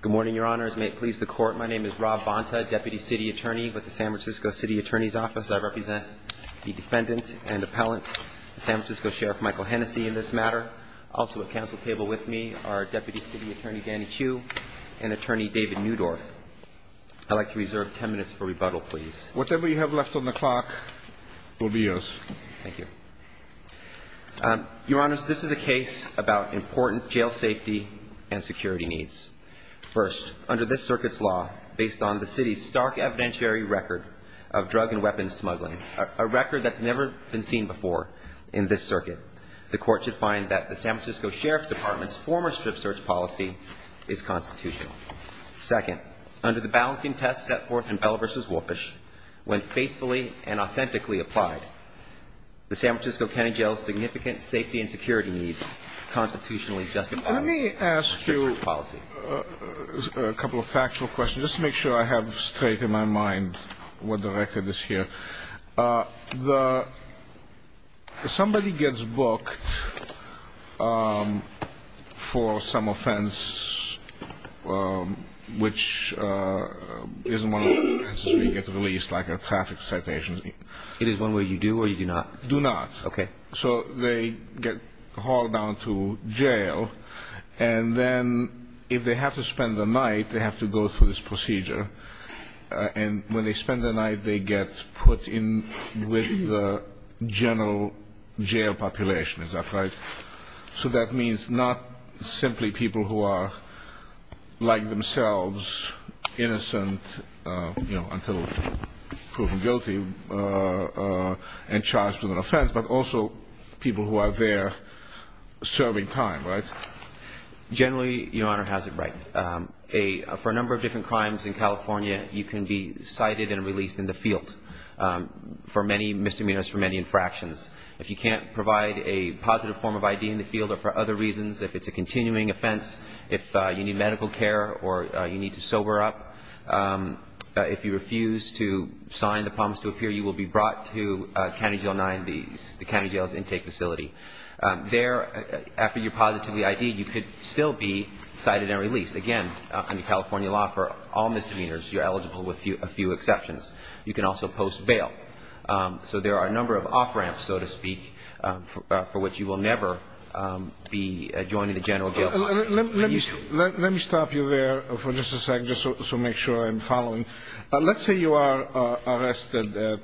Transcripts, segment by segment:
Good morning, Your Honors. May it please the Court, my name is Rob Bonta, Deputy City Attorney with the San Francisco City Attorney's Office. I represent the Defendant and Appellant, the San Francisco Sheriff, Michael Hennessey, in this matter. Also at council table with me are Deputy City Attorney Danny Hsu and Attorney David Newdorf. I'd like to reserve 10 minutes for rebuttal, please. Whatever you have left on the clock will be yours. Thank you. Your Honors, this is a case about important jail safety and security needs. First, under this circuit's law, based on the City's stark evidentiary record of drug and weapon smuggling, a record that's never been seen before in this circuit, the Court should find that the San Francisco Sheriff Department's former strip search policy is constitutional. Second, under the balancing test set forth in Bell v. Wolfish, when faithfully and authentically applied, the San Francisco County Jail's significant safety and security needs are constitutionally justified. Let me ask you a couple of factual questions, just to make sure I have straight in my mind what the record is here. Somebody gets booked for some offense which isn't one that gets released like a traffic citation. It is one where you do or you do not? Do not. Okay. So they get hauled down to jail, and then if they have to spend the night, they have to go through this procedure. And when they spend the night, they get put in with the general jail population. Is that right? So that means not simply people who are like and charged with an offense, but also people who are there serving time, right? Generally, Your Honor has it right. For a number of different crimes in California, you can be cited and released in the field for many misdemeanors, for many infractions. If you can't provide a positive form of ID in the field or for other reasons, if it's a continuing offense, if you need medical care or you need to sober up, if you refuse to sign the promise to appear, you will be brought to County Jail 9, the county jail's intake facility. There, after you're positively ID'd, you could still be cited and released. Again, under California law, for all misdemeanors, you're eligible with a few exceptions. You can also post bail. So there are a number of off-ramps, so to speak, for which you will never be joining the general jail population. Let me stop you there for just a second just to make sure I'm following. Let's say you are arrested at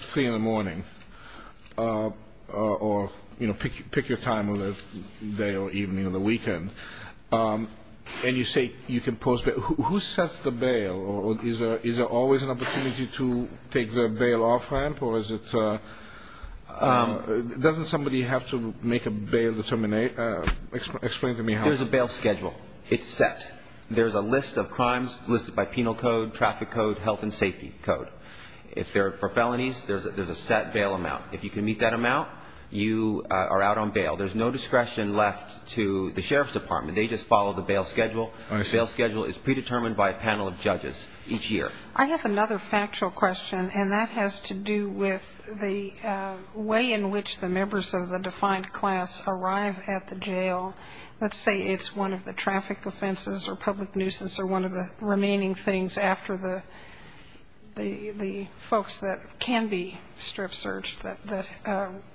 3 in the morning or, you know, pick your time of the day or evening or the weekend, and you say you can post bail. Who sets the bail? Is there always an opportunity to take the bail off-ramp, or is it – doesn't somebody have to make a bail determination – explain to me how – There's a bail schedule. It's set. There's a list of crimes listed by penal code, traffic code, health and safety code. If they're for felonies, there's a set bail amount. If you can meet that amount, you are out on bail. There's no discretion left to the Sheriff's Department. They just follow the bail schedule. The bail schedule is predetermined by a panel of judges each year. I have another factual question, and that has to do with the way in which the members of the defined class arrive at the jail. Let's say it's one of the traffic offenses or public nuisance or one of the remaining things after the folks that can be strip searched that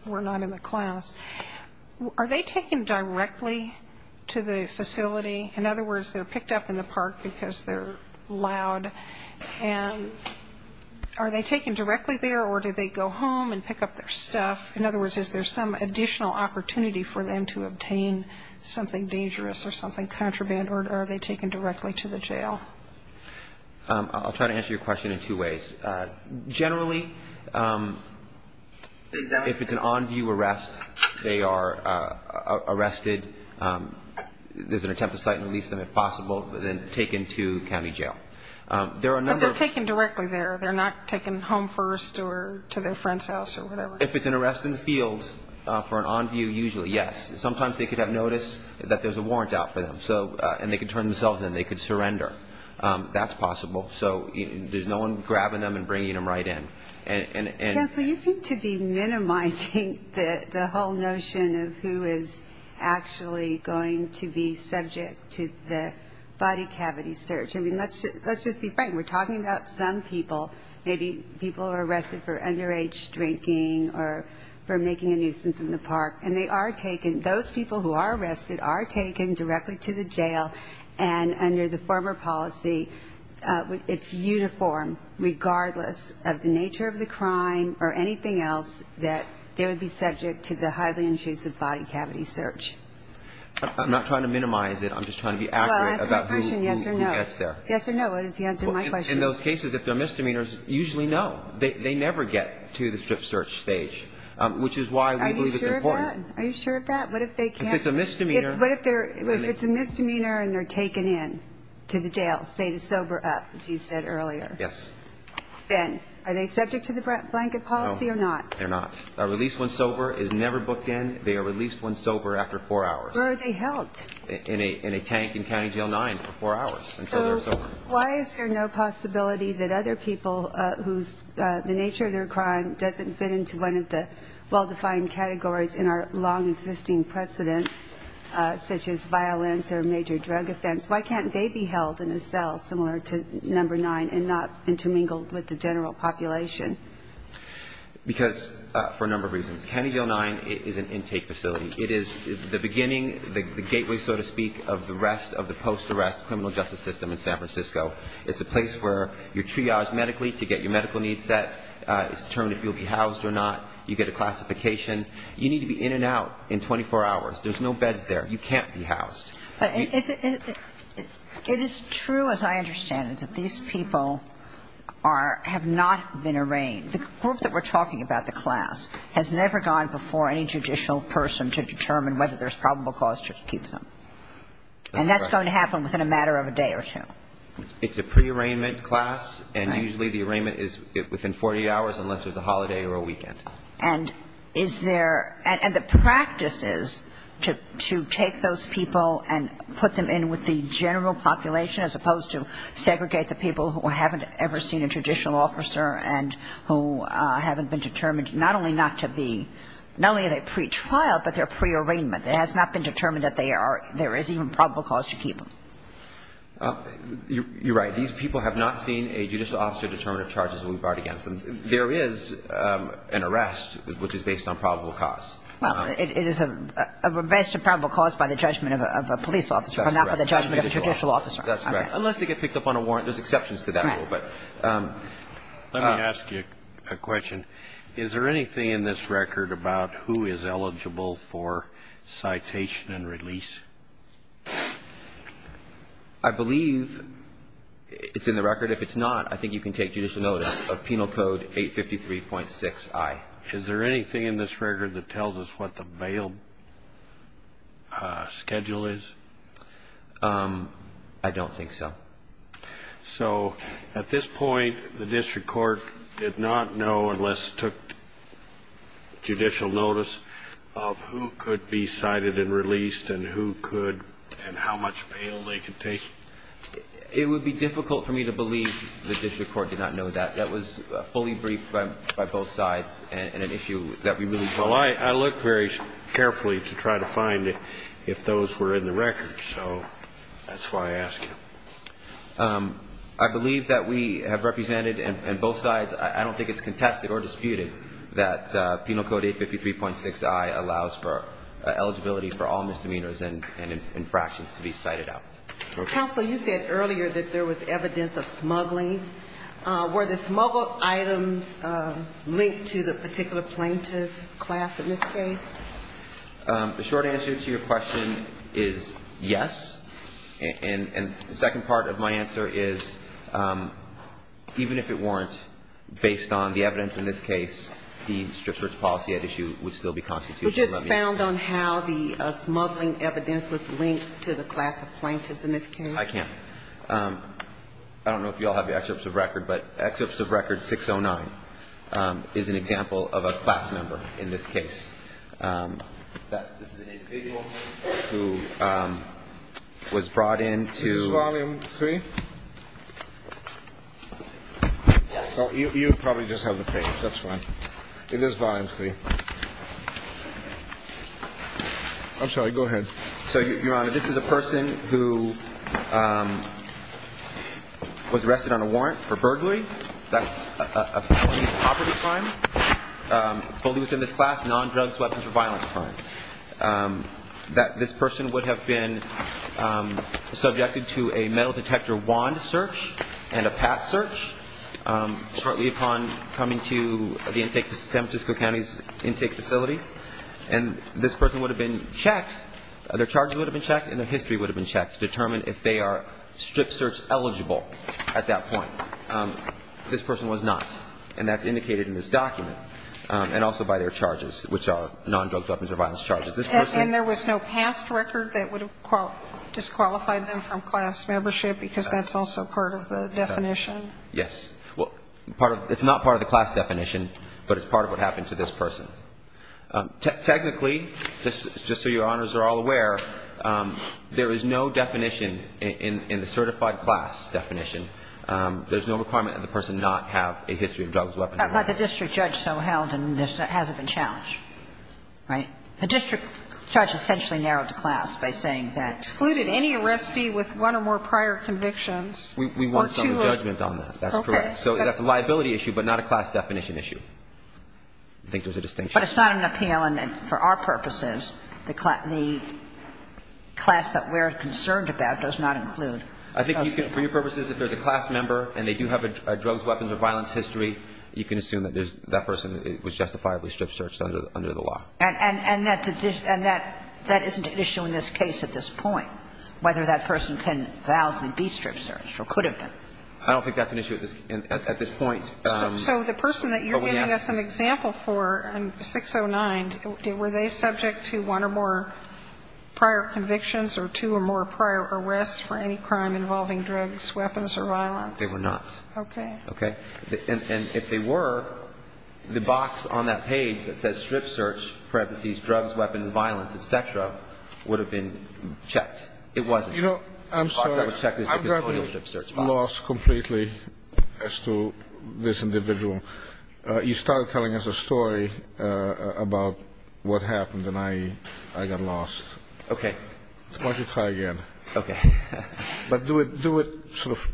were not in the class. Are they taken directly to the facility? In other words, they're picked up in the park because they're loud. And are they taken directly there, or do they go home and pick up their stuff? In other words, is there some additional opportunity for them to obtain something dangerous or something contraband, or are they taken directly to the jail? I'll try to answer your question in two ways. Generally, if it's an on-view arrest, they are arrested. There's an attempt to cite and release them, if possible, then taken to county jail. There are a number of them. But they're taken directly there. They're not taken home first or to their friend's house or whatever. If it's an arrest in the field, for an on-view, usually, yes. Sometimes they could have noticed that there's a warrant out for them, and they could turn themselves in. They could surrender. That's possible. So there's no one grabbing them and bringing them right in. Counsel, you seem to be minimizing the whole notion of who is actually going to be subject to the body cavity search. Let's just be frank. We're talking about some people. Maybe people are arrested for underage drinking or for making a nuisance in the park. And they are taken. Those people who are arrested are taken directly to the jail. And under the former policy, it's uniform, regardless of the nature of the crime or anything else, that they would be subject to the highly intrusive body cavity search. I'm not trying to minimize it. I'm just trying to be accurate about who gets there. Well, answer my question, yes or no. Yes or no. That is the answer to my question. In those cases, if they're misdemeanors, usually no. They never get to the strip search stage, which is why we believe it's important. Are you sure of that? What if they can't? If it's a misdemeanor... What if it's a misdemeanor and they're taken in to the jail, say, to sober up, as you said earlier? Yes. Then are they subject to the blanket policy or not? No, they're not. A released one sober is never booked in. They are released one sober after four hours. Where are they held? In a tank in County Jail 9 for four hours until they're sober. Why is there no possibility that other people whose, the nature of their crime doesn't fit into one of the well-defined categories in our long-existing precedent, such as violence or major drug offense, why can't they be held in a cell similar to Number 9 and not intermingled with the general population? Because for a number of reasons. County Jail 9 is an intake facility. It is the beginning, the gateway, so to speak, of the rest of the post-arrest criminal justice system in San Francisco. It's a place where you're triaged medically to get your medical needs set. It's determined if you'll be housed or not. You get a classification. You need to be in and out in 24 hours. There's no beds there. You can't be housed. It is true, as I understand it, that these people are, have not been arraigned. The group that we're talking about, the class, has never gone before any judicial person to determine whether there's probable cause to keep them. And that's going to happen within a matter of a day or two. It's a pre-arraignment class, and usually the arraignment is within 48 hours unless there's a holiday or a weekend. And is there, and the practice is to take those people and put them in with the general population as opposed to segregate the people who haven't ever seen a traditional officer and who haven't been determined not only not to be, not only are they pretrial, but they're pre-arraignment. It has not been determined that they are, there is even probable cause to keep them. You're right. These people have not seen a judicial officer determine the charges that we brought against them. There is an arrest, which is based on probable cause. Well, it is a rest of probable cause by the judgment of a police officer, but not by the judgment of a judicial officer. That's correct. Unless they get picked up on a warrant. There's exceptions to that rule. Right. But let me ask you a question. Is there anything in this record about who is eligible for citation and release? I believe it's in the record. If it's not, I think you can take judicial notice of Penal Code 853.6i. Is there anything in this record that tells us what the bail schedule is? I don't think so. So at this point, the district court did not know unless it took judicial notice of who could be cited and released and who could and how much bail they could take? It would be difficult for me to believe the district court did not know that. That was fully briefed by both sides and an issue that we really brought up. I look very carefully to try to find if those were in the record. So that's why I ask you. I believe that we have represented and both sides, I don't think it's contested or disputed that Penal Code 853.6i allows for eligibility for all misdemeanors and infractions to be cited out. Counsel, you said earlier that there was evidence of smuggling. Were the smuggled items linked to the particular plaintiff class in this case? The short answer to your question is yes. And the second part of my answer is even if it weren't, based on the evidence in this case, the district court's policy at issue would still be constitutional. Would you expound on how the smuggling evidence was linked to the class of plaintiffs in this case? I can't. I don't know if you all have the excerpts of record, but excerpts of record 609 is an example of a class member in this case. This is an individual who was brought in to Is this volume three? Yes. You probably just have the page. That's fine. It is volume three. I'm sorry, go ahead. So, Your Honor, this is a person who was arrested on a warrant for burglary. That's a felony of poverty crime. Fully within this class, non-drugs, weapons of violence crime. That this person would have been subjected to a metal detector wand search and a pat search shortly upon coming to the intake, San Francisco County's intake facility. And this person would have been checked, their charges would have been checked and their history would have been checked to determine if they are strip search eligible at that point. This person was not. And that's indicated in this document. And also by their charges, which are non-drugs, weapons of violence charges. And there was no past record that would have disqualified them from class membership because that's also part of the definition? Yes. Well, part of the – it's not part of the class definition, but it's part of what happened to this person. Technically, just so Your Honors are all aware, there is no definition in the certified class definition. There's no requirement that the person not have a history of drugs, weapons of violence. But the district judge so held and this hasn't been challenged, right? The district judge essentially narrowed the class by saying that. Excluded any arrestee with one or more prior convictions. We want some judgment on that. That's correct. Okay. So that's a liability issue, but not a class definition issue. I think there's a distinction. But it's not an appeal. And for our purposes, the class that we're concerned about does not include. I think for your purposes, if there's a class member and they do have a drugs, weapons of violence history, you can assume that that person was justifiably strip searched under the law. And that isn't an issue in this case at this point, whether that person can validly be strip searched or could have been. I don't think that's an issue at this point. So the person that you're giving us an example for, 609, were they subject to one or more prior convictions or two or more prior arrests for any crime involving drugs, weapons or violence? They were not. Okay. And if they were, the box on that page that says strip search, parentheses, drugs, weapons, violence, et cetera, would have been checked. It wasn't. You know, I'm sorry. The box that was checked is the criminal strip search box. I've gotten lost completely as to this individual. You started telling us a story about what happened and I got lost. Okay. Why don't you try again? Okay. But do it sort of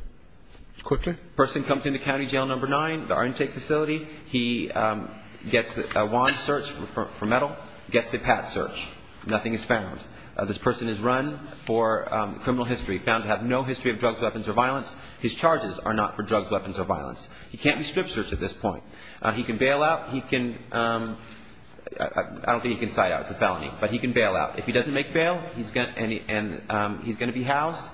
quickly. The person comes into county jail number nine, our intake facility. He gets a wand search for metal, gets a pat search. Nothing is found. This person is run for criminal history, found to have no history of drugs, weapons or violence. His charges are not for drugs, weapons or violence. He can't be strip searched at this point. He can bail out. He can – I don't think he can side out. It's a felony. But he can bail out. If he doesn't make bail, he's going to be housed.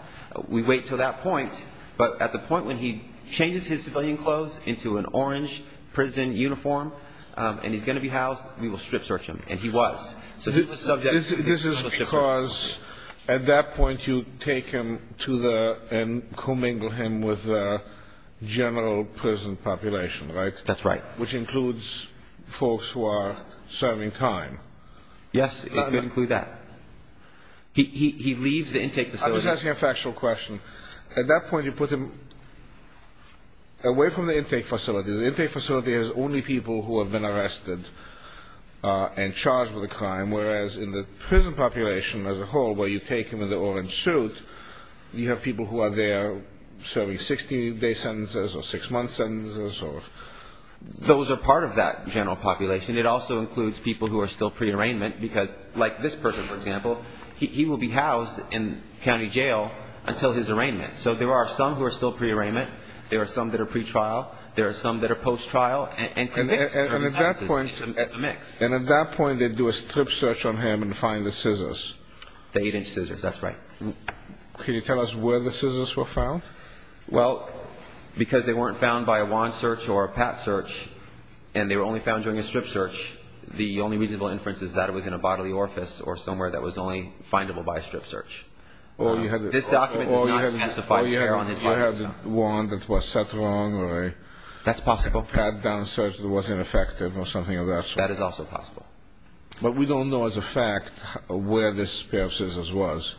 We wait until that point, but at the point when he changes his civilian clothes into an orange prison uniform and he's going to be housed, we will strip search him. And he was. So who's the subject? This is because at that point you take him to the – and commingle him with the general prison population, right? That's right. Which includes folks who are serving time. Yes. It could include that. He leaves the intake facility. I'm just asking a factual question. At that point, you put him away from the intake facility. The intake facility has only people who have been arrested and charged with a crime. Whereas in the prison population as a whole, where you take him in the orange suit, you have people who are there serving 16-day sentences or six-month sentences. Those are part of that general population. It also includes people who are still pre-arraignment, like this person, for example. He will be housed in county jail until his arraignment. So there are some who are still pre-arraignment. There are some that are pre-trial. There are some that are post-trial. And at that point, they do a strip search on him and find the scissors. The eight-inch scissors. That's right. Can you tell us where the scissors were found? Well, because they weren't found by a WAN search or a PAT search, and they were only found during a strip search, the only reasonable inference is that it was in a bodily orifice or somewhere that was only findable by a strip search. This document does not specify where on his body was found. Or you had a WAN that was set wrong or a PAT down search that was ineffective or something of that sort. That is also possible. But we don't know as a fact where this pair of scissors was.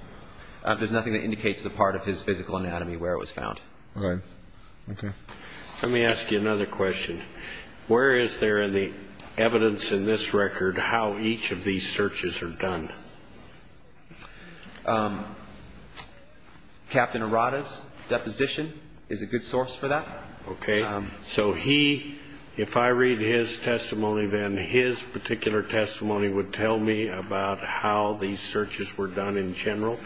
There's nothing that indicates the part of his physical anatomy where it was found. Right. Okay. Let me ask you another question. Where is there in the evidence in this record how each of these searches are done? Captain Arata's deposition is a good source for that. Okay. So he, if I read his testimony, then his particular testimony would tell me about how these searches were done in general?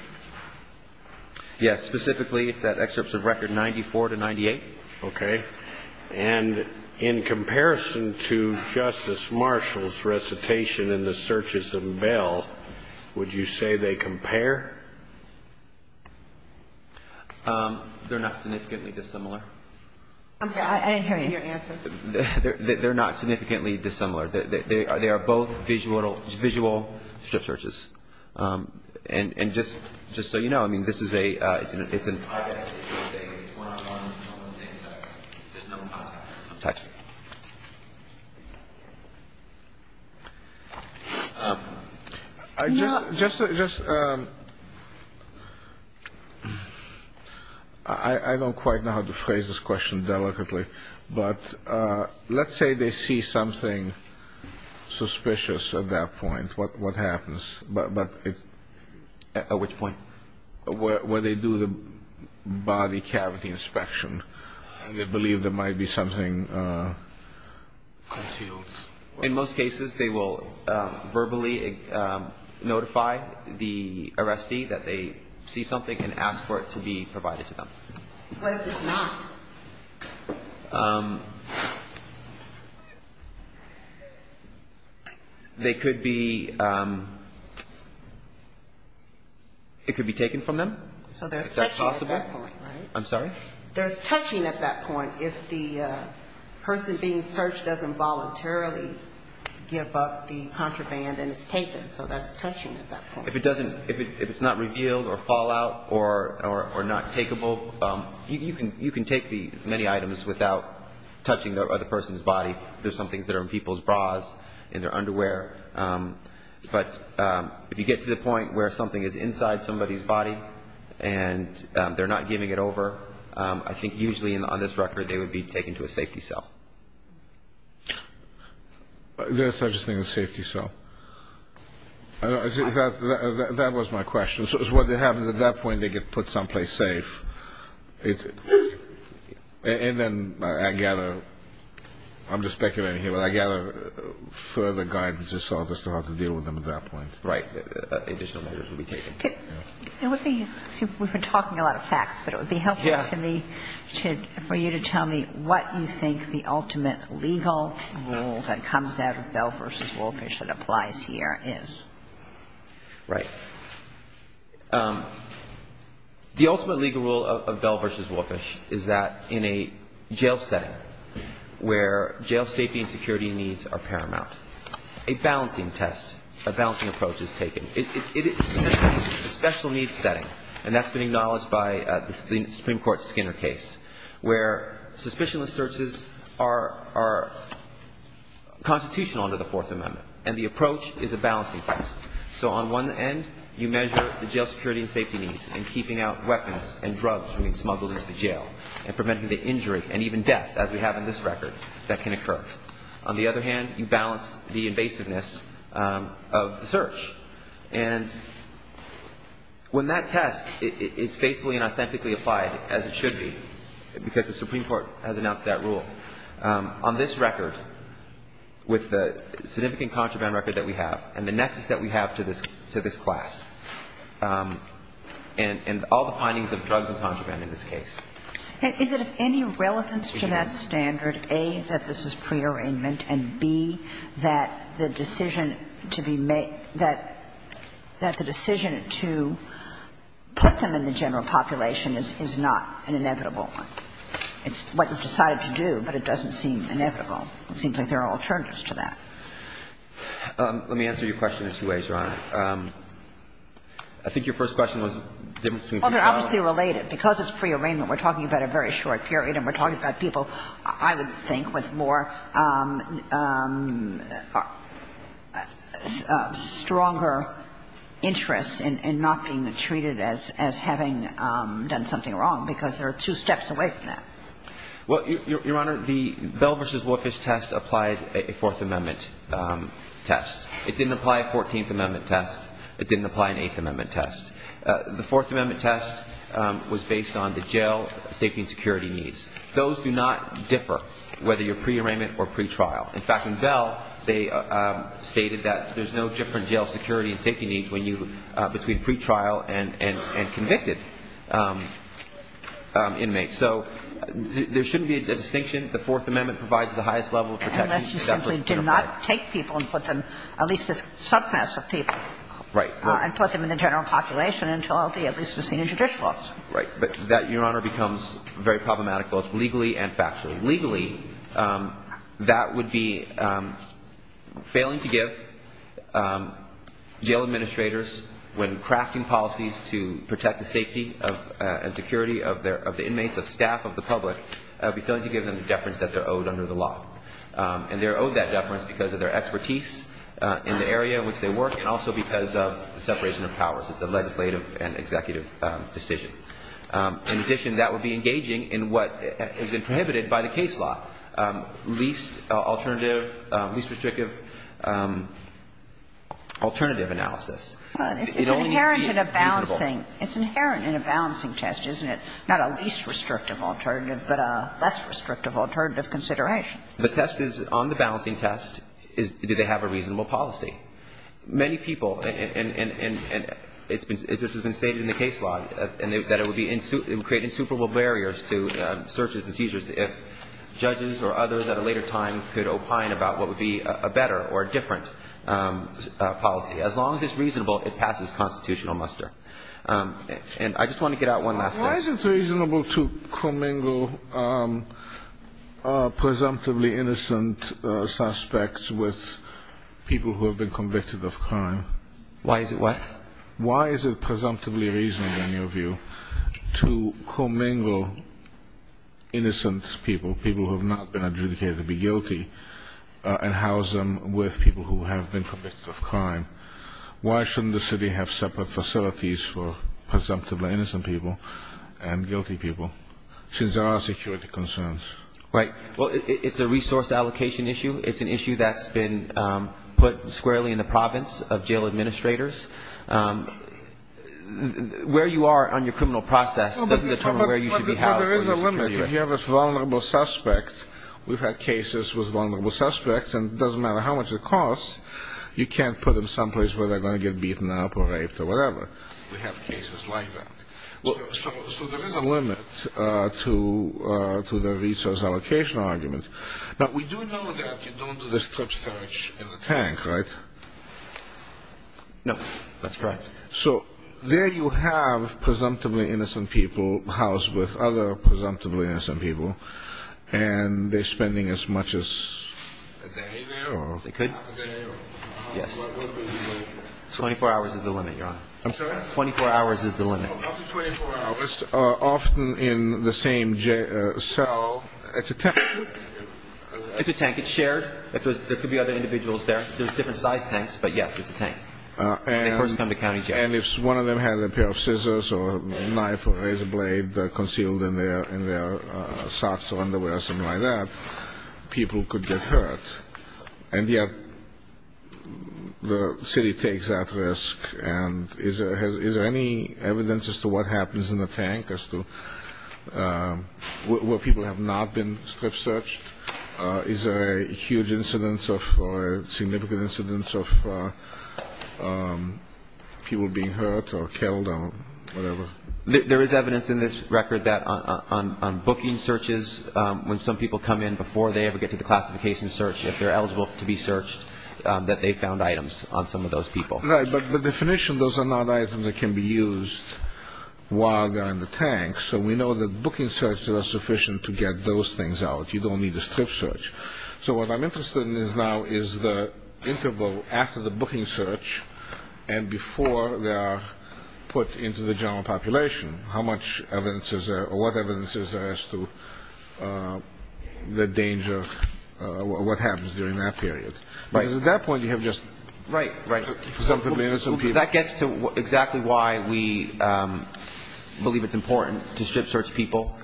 Yes. Specifically, it's at excerpts of record 94 to 98. Okay. And in comparison to Justice Marshall's recitation in the searches of Bell, would you say they compare? They're not significantly dissimilar. I'm sorry, I didn't hear your answer. They're not significantly dissimilar. They are both visual strip searches. And just so you know, I mean, this is a, it's an It's one-on-one on the same site. There's no contact. Okay. I just, I don't quite know how to phrase this question delicately. But let's say they see something suspicious at that point. What happens? At which point? Where they do the body cavity inspection and they believe there might be something concealed? In most cases, they will verbally notify the arrestee that they see something and ask for it to be provided to them. What if it's not? They could be, it could be taken from them. So there's touching at that point, right? I'm sorry? There's touching at that point. If the person being searched doesn't voluntarily give up the contraband and it's taken. So that's touching at that point. If it doesn't, if it's not revealed or fall out or not takeable, you can take it. Many items without touching the other person's body. There's some things that are in people's bras, in their underwear. But if you get to the point where something is inside somebody's body and they're not giving it over, I think usually on this record they would be taken to a safety cell. There's such a thing as a safety cell. That was my question. So what happens at that point, they get put someplace safe. And then I gather, I'm just speculating here, but I gather further guidance is sought as to how to deal with them at that point. Right. Additional measures would be taken. We've been talking a lot of facts, but it would be helpful for you to tell me what you think the ultimate legal rule that comes out of Bell v. Woolfish that applies here is. Right. The ultimate legal rule of Bell v. Woolfish is that in a jail setting where jail safety and security needs are paramount, a balancing test, a balancing approach is taken. It's a special needs setting, and that's been acknowledged by the Supreme Court Skinner case, where suspicionless searches are constitutional under the Fourth Amendment. And the approach is a balancing test. So on one end, you measure the jail security and safety needs and keeping out weapons and drugs from being smuggled into the jail and preventing the injury and even death, as we have in this record, that can occur. On the other hand, you balance the invasiveness of the search. And when that test is faithfully and authentically applied, as it should be, because the Supreme Court has announced that rule, on this record, with the significant contraband record that we have and the nexus that we have to this class, and all the findings of drugs and contraband in this case. Is it of any relevance to that standard, A, that this is prearrangement, and, B, that the decision to be made that the decision to put them in the general population is not an inevitable one? It's what you've decided to do, but it doesn't seem inevitable. It seems like there are alternatives to that. Let me answer your question in two ways, Your Honor. I think your first question was the difference between prearrangement. Well, they're obviously related. Because it's prearrangement, we're talking about a very short period, and we're talking about people, I would think, with more stronger interest in not being treated as having done something wrong, because they're two steps away from that. Well, Your Honor, the Bell v. Warfish test applied a Fourth Amendment test. It didn't apply a Fourteenth Amendment test. It didn't apply an Eighth Amendment test. The Fourth Amendment test was based on the jail safety and security needs. Those do not differ, whether you're prearrangement or pretrial. In fact, in Bell, they stated that there's no different jail security and safety needs when you, between pretrial and convicted inmates. So there shouldn't be a distinction. The Fourth Amendment provides the highest level of protection. Unless you simply did not take people and put them, at least a subclass of people. Right. And put them in the general population until they at least receive a judicial office. Right. But that, Your Honor, becomes very problematic, both legally and factually. Legally, that would be failing to give jail administrators, when crafting policies to protect the safety and security of the inmates, of staff, of the public, failing to give them the deference that they're owed under the law. And they're owed that deference because of their expertise in the area in which they work, and also because of the separation of powers. It's a legislative and executive decision. In addition, that would be engaging in what has been prohibited by the case law. Least alternative, least restrictive alternative analysis. It only needs to be reasonable. It's inherent in a balancing test, isn't it? Not a least restrictive alternative, but a less restrictive alternative consideration. The test is, on the balancing test, do they have a reasonable policy? Many people, and this has been stated in the case law, that it would create insuperable barriers to searches and seizures if judges or others at a later time could opine about what would be a better or different policy. As long as it's reasonable, it passes constitutional muster. And I just want to get out one last thing. Why is it reasonable to commingle presumptively innocent suspects with people who have been convicted of crime? Why is it what? Why is it presumptively reasonable, in your view, to commingle innocent people, people who have not been adjudicated to be guilty, and house them with people who have been convicted of crime? Why shouldn't the city have separate facilities for presumptively innocent people and guilty people, since there are security concerns? Right. Well, it's a resource allocation issue. It's an issue that's been put squarely in the province of jail administrators. Where you are on your criminal process doesn't determine where you should be housed. But there is a limit. If you have a vulnerable suspect, we've had cases with vulnerable suspects, and it doesn't matter how much it costs, you can't put them someplace where they're going to get beaten up or raped or whatever. We have cases like that. So there is a limit to the resource allocation argument. Now, we do know that you don't do the strip search in the tank, right? No. That's correct. So there you have presumptively innocent people housed with other presumptively innocent people, and they're spending as much as a day there, or half a day? Yes. 24 hours is the limit, Your Honor. I'm sorry? 24 hours is the limit. 24 hours, often in the same cell. It's a tank. It's a tank. It's shared. There could be other individuals there. There's different size tanks, but yes, it's a tank. And if one of them had a pair of scissors or a knife or a razor blade concealed in their socks or underwear or something like that, people could get hurt. And yet, the city takes that risk. And is there any evidence as to what happens in the tank, as to where people have not been strip searched? Is there a huge incidence or a significant incidence of people being hurt or killed or whatever? There is evidence in this record that on booking searches, when some people come in before they ever get to the classification search, if they're eligible to be searched, that they've found items on some of those people. Right, but the definition, those are not items that can be used while they're in the tank. So we know that booking searches are sufficient to get those things out. You don't need a strip search. So what I'm interested in now is the interval after the booking search and before they are put into the general population. How much evidence is there or what evidence is there as to the danger, what happens during that period? Because at that point, you have just... Right, right. That gets to exactly why we believe it's important to strip search people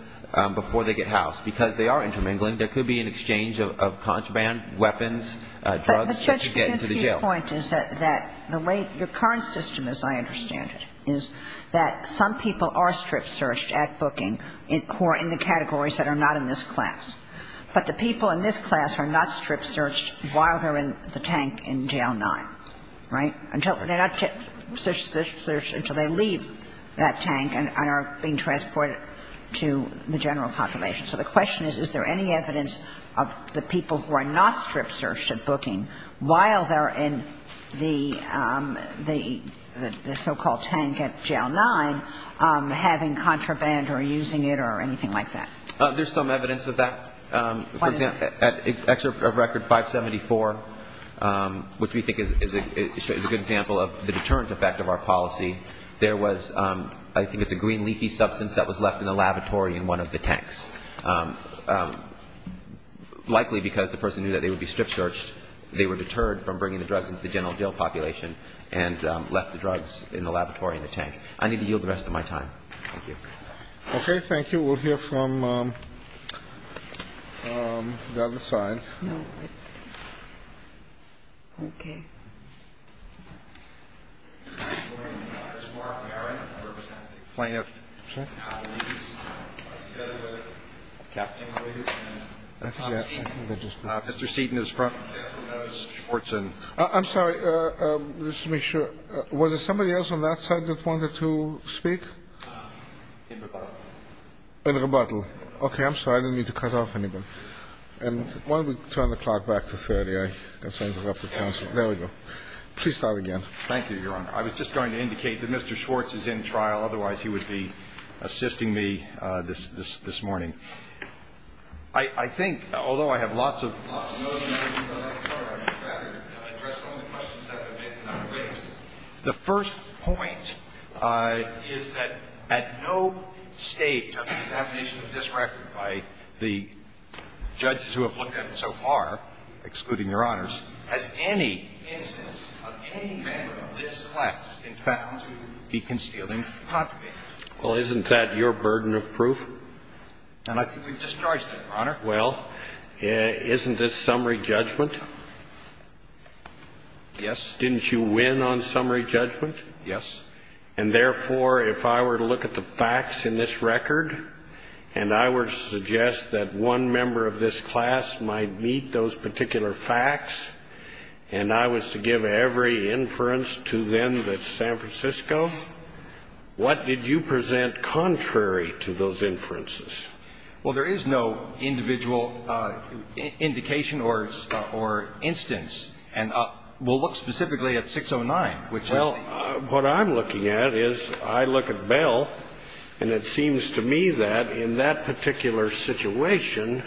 before they get housed, because they are intermingling. There could be an exchange of contraband, weapons, drugs that could get into the jail. But Judge Kaczynski's point is that the way your current system, as I understand it, is that some people are strip searched at booking who are in the categories that are not in this class. But the people in this class are not strip searched while they're in the tank in jail 9. Right? They're not strip searched until they leave that tank and are being transported to the general population. So the question is, is there any evidence of the people who are not strip searched at booking while they're in the so-called tank at jail 9, having contraband or using it or anything like that? There's some evidence of that. For example, at record 574, which we think is a good example of the deterrent effect of our policy, there was, I think it's a green leafy substance that was left in the lavatory in one of the tanks. Likely because the person knew that they would be strip searched, they were deterred from bringing the drugs into the general jail population and left the drugs in the lavatory in the tank. I need to yield the rest of my time. Thank you. Okay. Thank you. We'll hear from the other side. No. Okay. Plaintiff. Mr. Seaton is front. I'm sorry. Let's make sure. Was there somebody else on that side that wanted to speak? In rebuttal. In rebuttal. Okay. I'm sorry. I didn't mean to cut off anyone. And why don't we turn the clock back to 30? I can send it up to counsel. There we go. Please start again. Thank you, Your Honor. I was just going to indicate that Mr. Schwartz is in trial. Otherwise, he would be assisting me this morning. I think, although I have lots of notes, I'd rather address some of the questions that have been raised. The first point is that at no stage of the examination of this record by the judges who have looked at it so far, excluding Your Honors, has any instance of any member of this class been found to be concealing contraband? Well, isn't that your burden of proof? And I think we've discharged that, Your Honor. Well, isn't this summary judgment? Yes. Didn't you win on summary judgment? Yes. And therefore, if I were to look at the facts in this record, and I were to suggest that one member of this class might meet those particular facts, and I was to give every inference to them that's San Francisco, what did you present contrary to those inferences? Well, there is no individual indication or instance. And we'll look specifically at 609, which is the... Well, what I'm looking at is I look at Bell, and it seems to me that in that particular situation,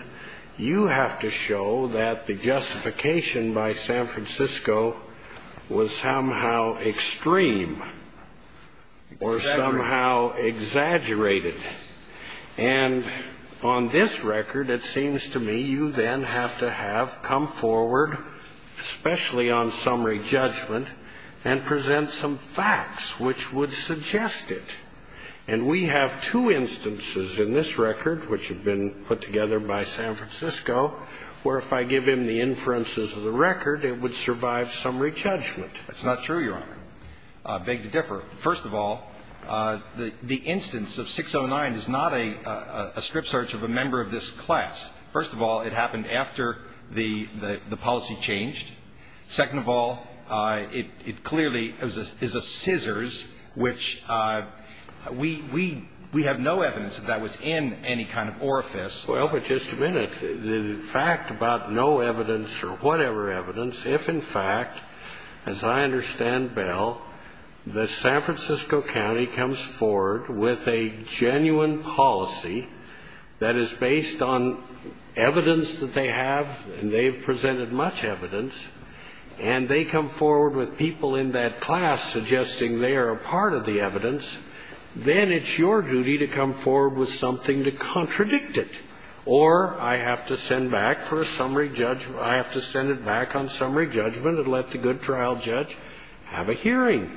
you have to show that the justification by San Francisco was somehow extreme or somehow exaggerated. And on this record, it seems to me you then have to have come forward, especially on summary judgment, and present some facts which would suggest it. And we have two instances in this record which have been put together by San Francisco, where if I give him the inferences of the record, it would survive summary judgment. That's not true, Your Honor. I beg to differ. First of all, the instance of 609 is not a strip search of a member of this class. First of all, it happened after the policy changed. Second of all, it clearly is a scissors, which we have no evidence that that was in any kind of orifice. Well, but just a minute. The fact about no evidence or whatever evidence, if in fact, as I understand Bell, that San Francisco County comes forward with a genuine policy that is based on evidence that they have, and they've presented much evidence, and they come forward with people in that class suggesting they are a part of the evidence, then it's your duty to come forward with something to contradict it. Or I have to send back for a summary judgment, I have to send it back on summary judgment and let the good trial judge have a hearing.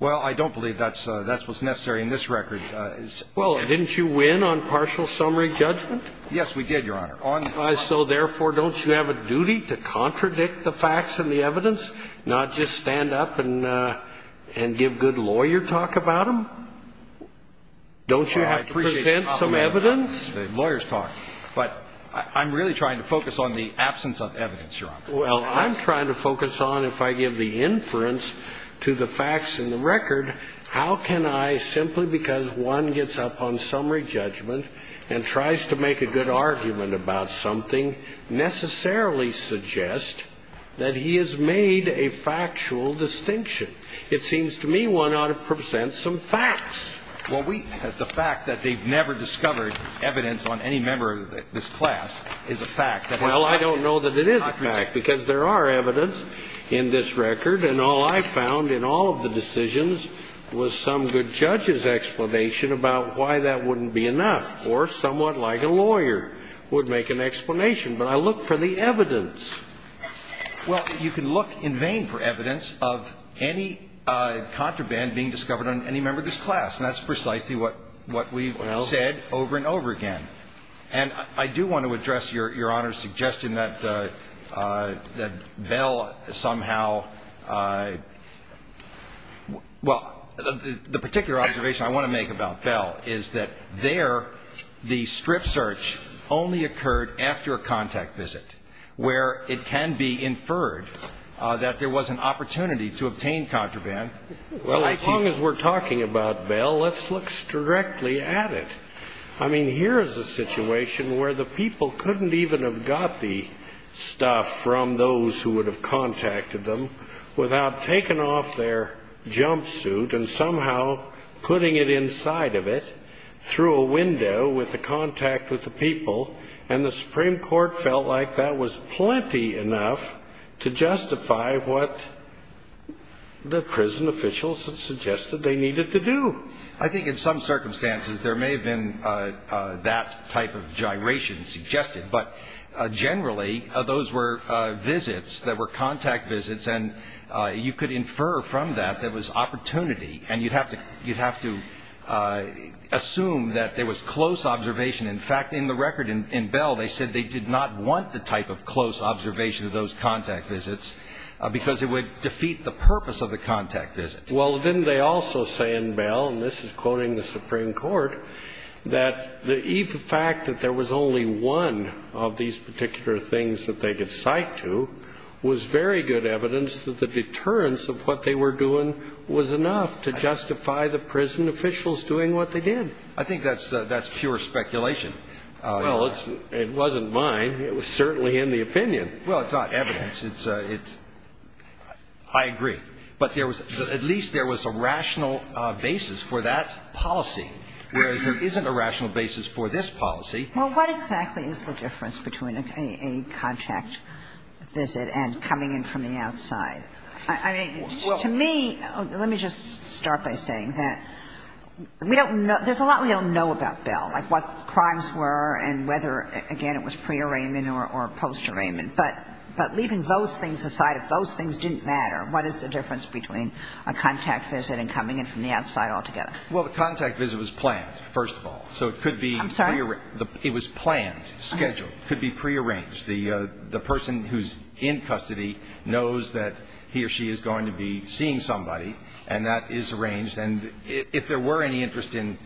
Well, I don't believe that's what's necessary in this record. Well, didn't you win on partial summary judgment? Yes, we did, Your Honor. So therefore, don't you have a duty to contradict the facts and the evidence, not just stand up and give good lawyer talk about them? Don't you have to present some evidence? Well, I appreciate the compliment about the lawyers' talk, but I'm really trying to focus on the absence of evidence, Your Honor. Well, I'm trying to focus on if I give the inference to the facts in the record, how can I, simply because one gets up on summary judgment and tries to make a good argument about something, necessarily suggest that he has made a factual distinction? It seems to me one ought to present some facts. Well, the fact that they've never discovered evidence on any member of this class is a fact. Well, I don't know that it is a fact, because there are evidence in this record, and all I found in all of the decisions was some good judge's explanation about why that wouldn't be enough, or someone like a lawyer would make an explanation. But I look for the evidence. Well, you can look in vain for evidence of any contraband being discovered on any member of this class, and that's precisely what we've said over and over again. And I do want to address Your Honor's suggestion that Bell somehow, well, the particular observation I want to make about Bell is that there the strip search only occurred after a contact visit, where it can be inferred that there was an opportunity to obtain contraband. Well, as long as we're talking about Bell, let's look strictly at it. I mean, here is a situation where the people couldn't even have got the stuff from those who would have contacted them without taking off their jumpsuit and somehow putting it inside of it through a window with the contact with the people, and the Supreme Court felt like that was plenty enough to justify what the prison officials had suggested they needed to do. I think in some circumstances there may have been that type of gyration suggested, but generally those were visits that were contact visits, and you could infer from that there was opportunity, and you'd have to assume that there was close observation. In fact, in the record in Bell, they said they did not want the type of close observation of those contact visits because it would defeat the purpose of the contact visit. Well, didn't they also say in Bell, and this is quoting the Supreme Court, that the fact that there was only one of these particular things that they could cite to was very good evidence that the deterrence of what they were doing was enough to justify the prison officials doing what they did. I think that's pure speculation. Well, it wasn't mine. It was certainly in the opinion. Well, it's not evidence. I agree. But at least there was a rational basis for that policy, whereas there isn't a rational basis for this policy. Well, what exactly is the difference between a contact visit and coming in from the outside? I mean, to me, let me just start by saying that there's a lot we don't know about Bell, like what the crimes were and whether, again, it was prearrangement or postarrangement. But leaving those things aside, if those things didn't matter, what is the difference between a contact visit and coming in from the outside altogether? Well, the contact visit was planned, first of all. I'm sorry? It was planned, scheduled. It could be prearranged. The person who's in custody knows that he or she is going to be seeing somebody, and that is arranged. And if there were any interest in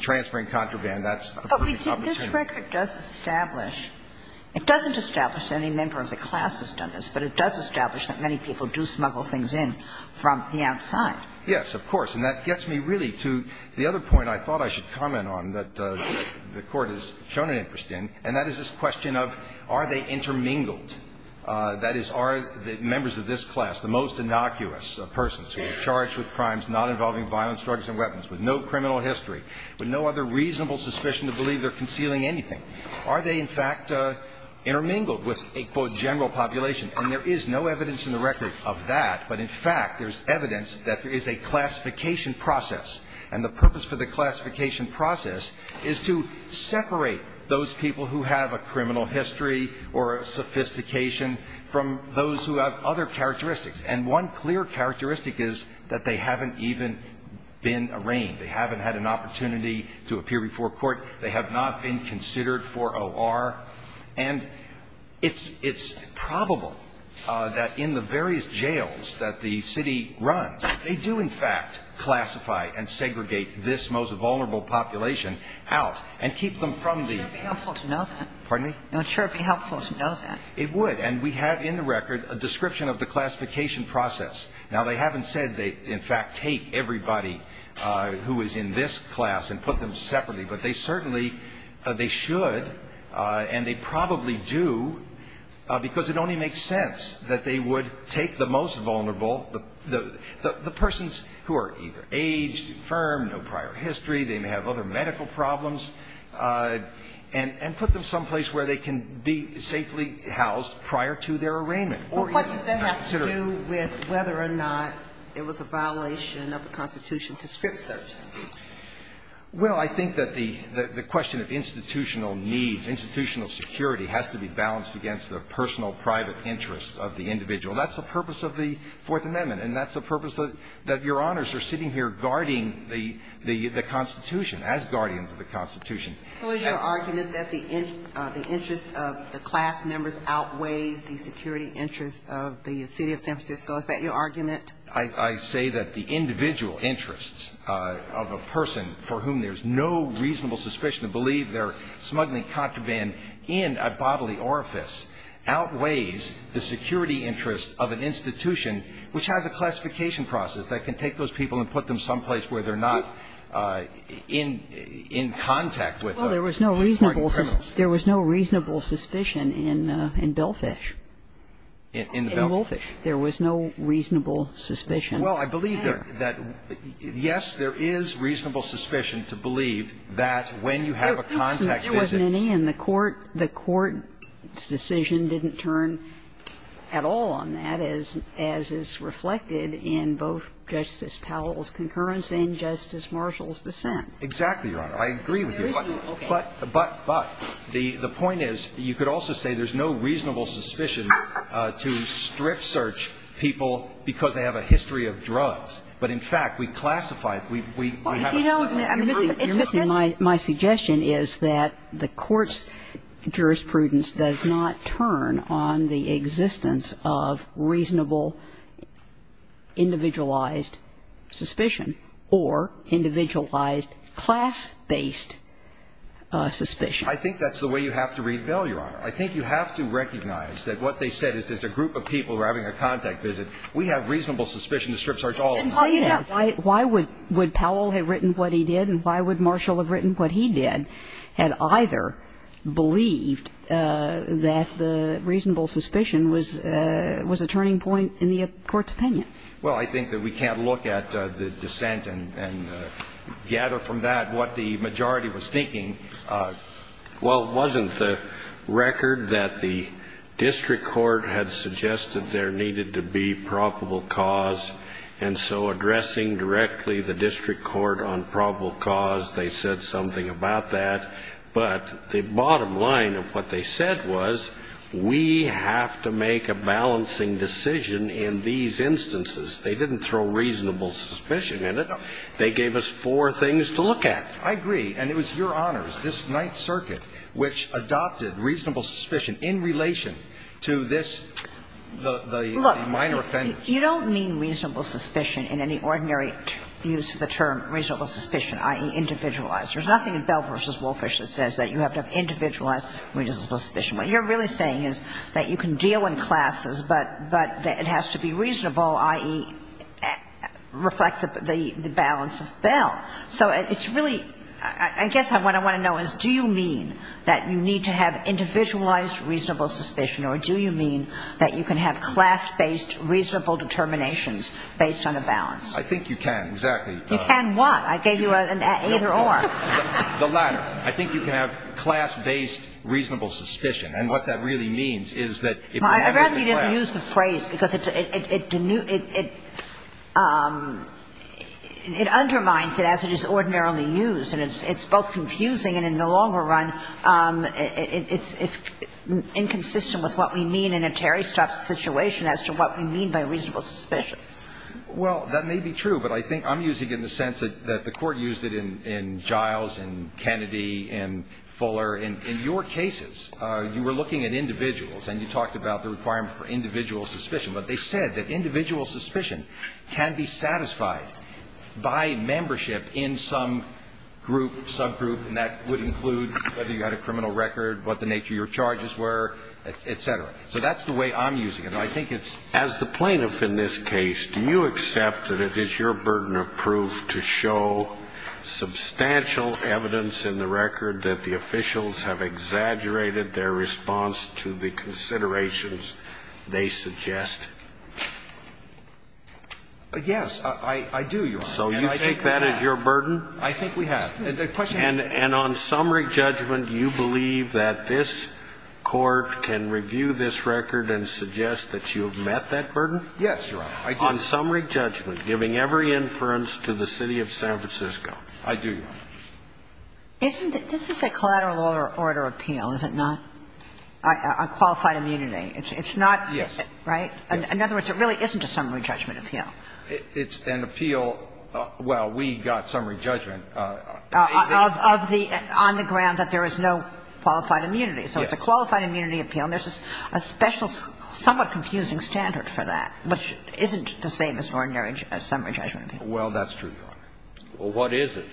transferring contraband, that's a good opportunity. But this record does establish, it doesn't establish that any member of the class has done this, but it does establish that many people do smuggle things in from the outside. Yes, of course. And that gets me really to the other point I thought I should comment on that the Court has shown an interest in, and that is this question of are they intermingled? That is, are the members of this class, the most innocuous of persons who are charged with crimes not involving violence, drugs, and weapons, with no criminal history, with no other reasonable suspicion to believe they're concealing anything, are they, in fact, intermingled with a, quote, general population? And there is no evidence in the record of that, but, in fact, there's evidence that there is a classification process, and the purpose for the classification process is to separate those people who have a criminal history or a sophistication from those who have other characteristics. And one clear characteristic is that they haven't even been arraigned. They haven't had an opportunity to appear before court. They have not been considered for O.R. And it's probable that in the various jails that the city runs, they do, in fact, classify and segregate this most vulnerable population out and keep them from the ---- It would sure be helpful to know that. Pardon me? It would sure be helpful to know that. It would, and we have in the record a description of the classification process. Now, they haven't said they, in fact, take everybody who is in this class and put them separately, but they certainly, they should, and they probably do, because it only makes sense that they would take the most vulnerable, the persons who are either aged, infirmed, no prior history, they may have other medical problems, and put them someplace where they can be safely housed prior to their arraignment. But what does that have to do with whether or not it was a violation of the Constitution to script search? Well, I think that the question of institutional needs, institutional security has to be balanced against the personal private interests of the individual. That's the purpose of the Fourth Amendment, and that's the purpose that Your Honors are sitting here guarding the Constitution, as guardians of the Constitution. So is your argument that the interest of the class members outweighs the security interests of the city of San Francisco? Is that your argument? I say that the individual interests of a person for whom there's no reasonable suspicion to believe they're smuggling contraband in a bodily orifice outweighs the security interests of an institution which has a classification process that can take those people and put them someplace where they're not in contact with important criminals? Well, there was no reasonable suspicion in Belfish. In Belfish? There was no reasonable suspicion there. Well, I believe that, yes, there is reasonable suspicion to believe that when you have a contact visit. There wasn't any in the court. The court's decision didn't turn at all on that, as is reflected in both Judge Justice Powell's concurrence and Justice Marshall's dissent. Exactly, Your Honor. I agree with you. But the point is, you could also say there's no reasonable suspicion to strip search people because they have a history of drugs. But, in fact, we classify it. We have a problem. You're missing my suggestion, is that the court's jurisprudence does not turn on the individualized suspicion or individualized class-based suspicion. I think that's the way you have to read Bell, Your Honor. I think you have to recognize that what they said is there's a group of people who are having a contact visit. We have reasonable suspicion to strip search all of them. Then why would Powell have written what he did, and why would Marshall have written what he did, had either believed that the reasonable suspicion was a turning point in the court's opinion? Well, I think that we can't look at the dissent and gather from that what the majority was thinking. Well, wasn't the record that the district court had suggested there needed to be probable cause? And so addressing directly the district court on probable cause, they said something about that. But the bottom line of what they said was, we have to make a balancing decision in these instances. They didn't throw reasonable suspicion in it. They gave us four things to look at. I agree. And it was Your Honors, this Ninth Circuit, which adopted reasonable suspicion in relation to this, the minor offense. Look, you don't mean reasonable suspicion in any ordinary use of the term reasonable suspicion, i.e., individualized. There's nothing in Bell v. Woolfish that says that you have to have individualized reasonable suspicion. What you're really saying is that you can deal in classes, but it has to be reasonable, i.e., reflect the balance of Bell. So it's really – I guess what I want to know is, do you mean that you need to have individualized reasonable suspicion, or do you mean that you can have class-based reasonable determinations based on a balance? I think you can, exactly. You can what? I gave you an either-or. The latter. I think you can have class-based reasonable suspicion. And what that really means is that if you have it in class – I'd rather you didn't use the phrase, because it – it undermines it as it is ordinarily used, and it's both confusing, and in the longer run, it's inconsistent with what we mean in a Terry Strauss situation as to what we mean by reasonable suspicion. Well, that may be true, but I think I'm using it in the sense that the Court used it in Giles and Kennedy and Fuller. In your cases, you were looking at individuals, and you talked about the requirement for individual suspicion. But they said that individual suspicion can be satisfied by membership in some group, subgroup, and that would include whether you had a criminal record, what the nature of your charges were, et cetera. So that's the way I'm using it. I think it's – The plaintiff in this case, do you accept that it is your burden of proof to show substantial evidence in the record that the officials have exaggerated their response to the considerations they suggest? Yes, I do, Your Honor. So you take that as your burden? I think we have. And on summary judgment, you believe that this Court can review this record and suggest that you have met that burden? Yes, Your Honor, I do. On summary judgment, giving every inference to the City of San Francisco. I do, Your Honor. Isn't it – this is a collateral order appeal, is it not, on qualified immunity? It's not, right? Yes. In other words, it really isn't a summary judgment appeal. It's an appeal – well, we got summary judgment. Of the – on the ground that there is no qualified immunity. Yes. It's a qualified immunity appeal, and there's a special somewhat confusing standard for that, which isn't the same as ordinary summary judgment appeal. Well, that's true, Your Honor. Well, what is it?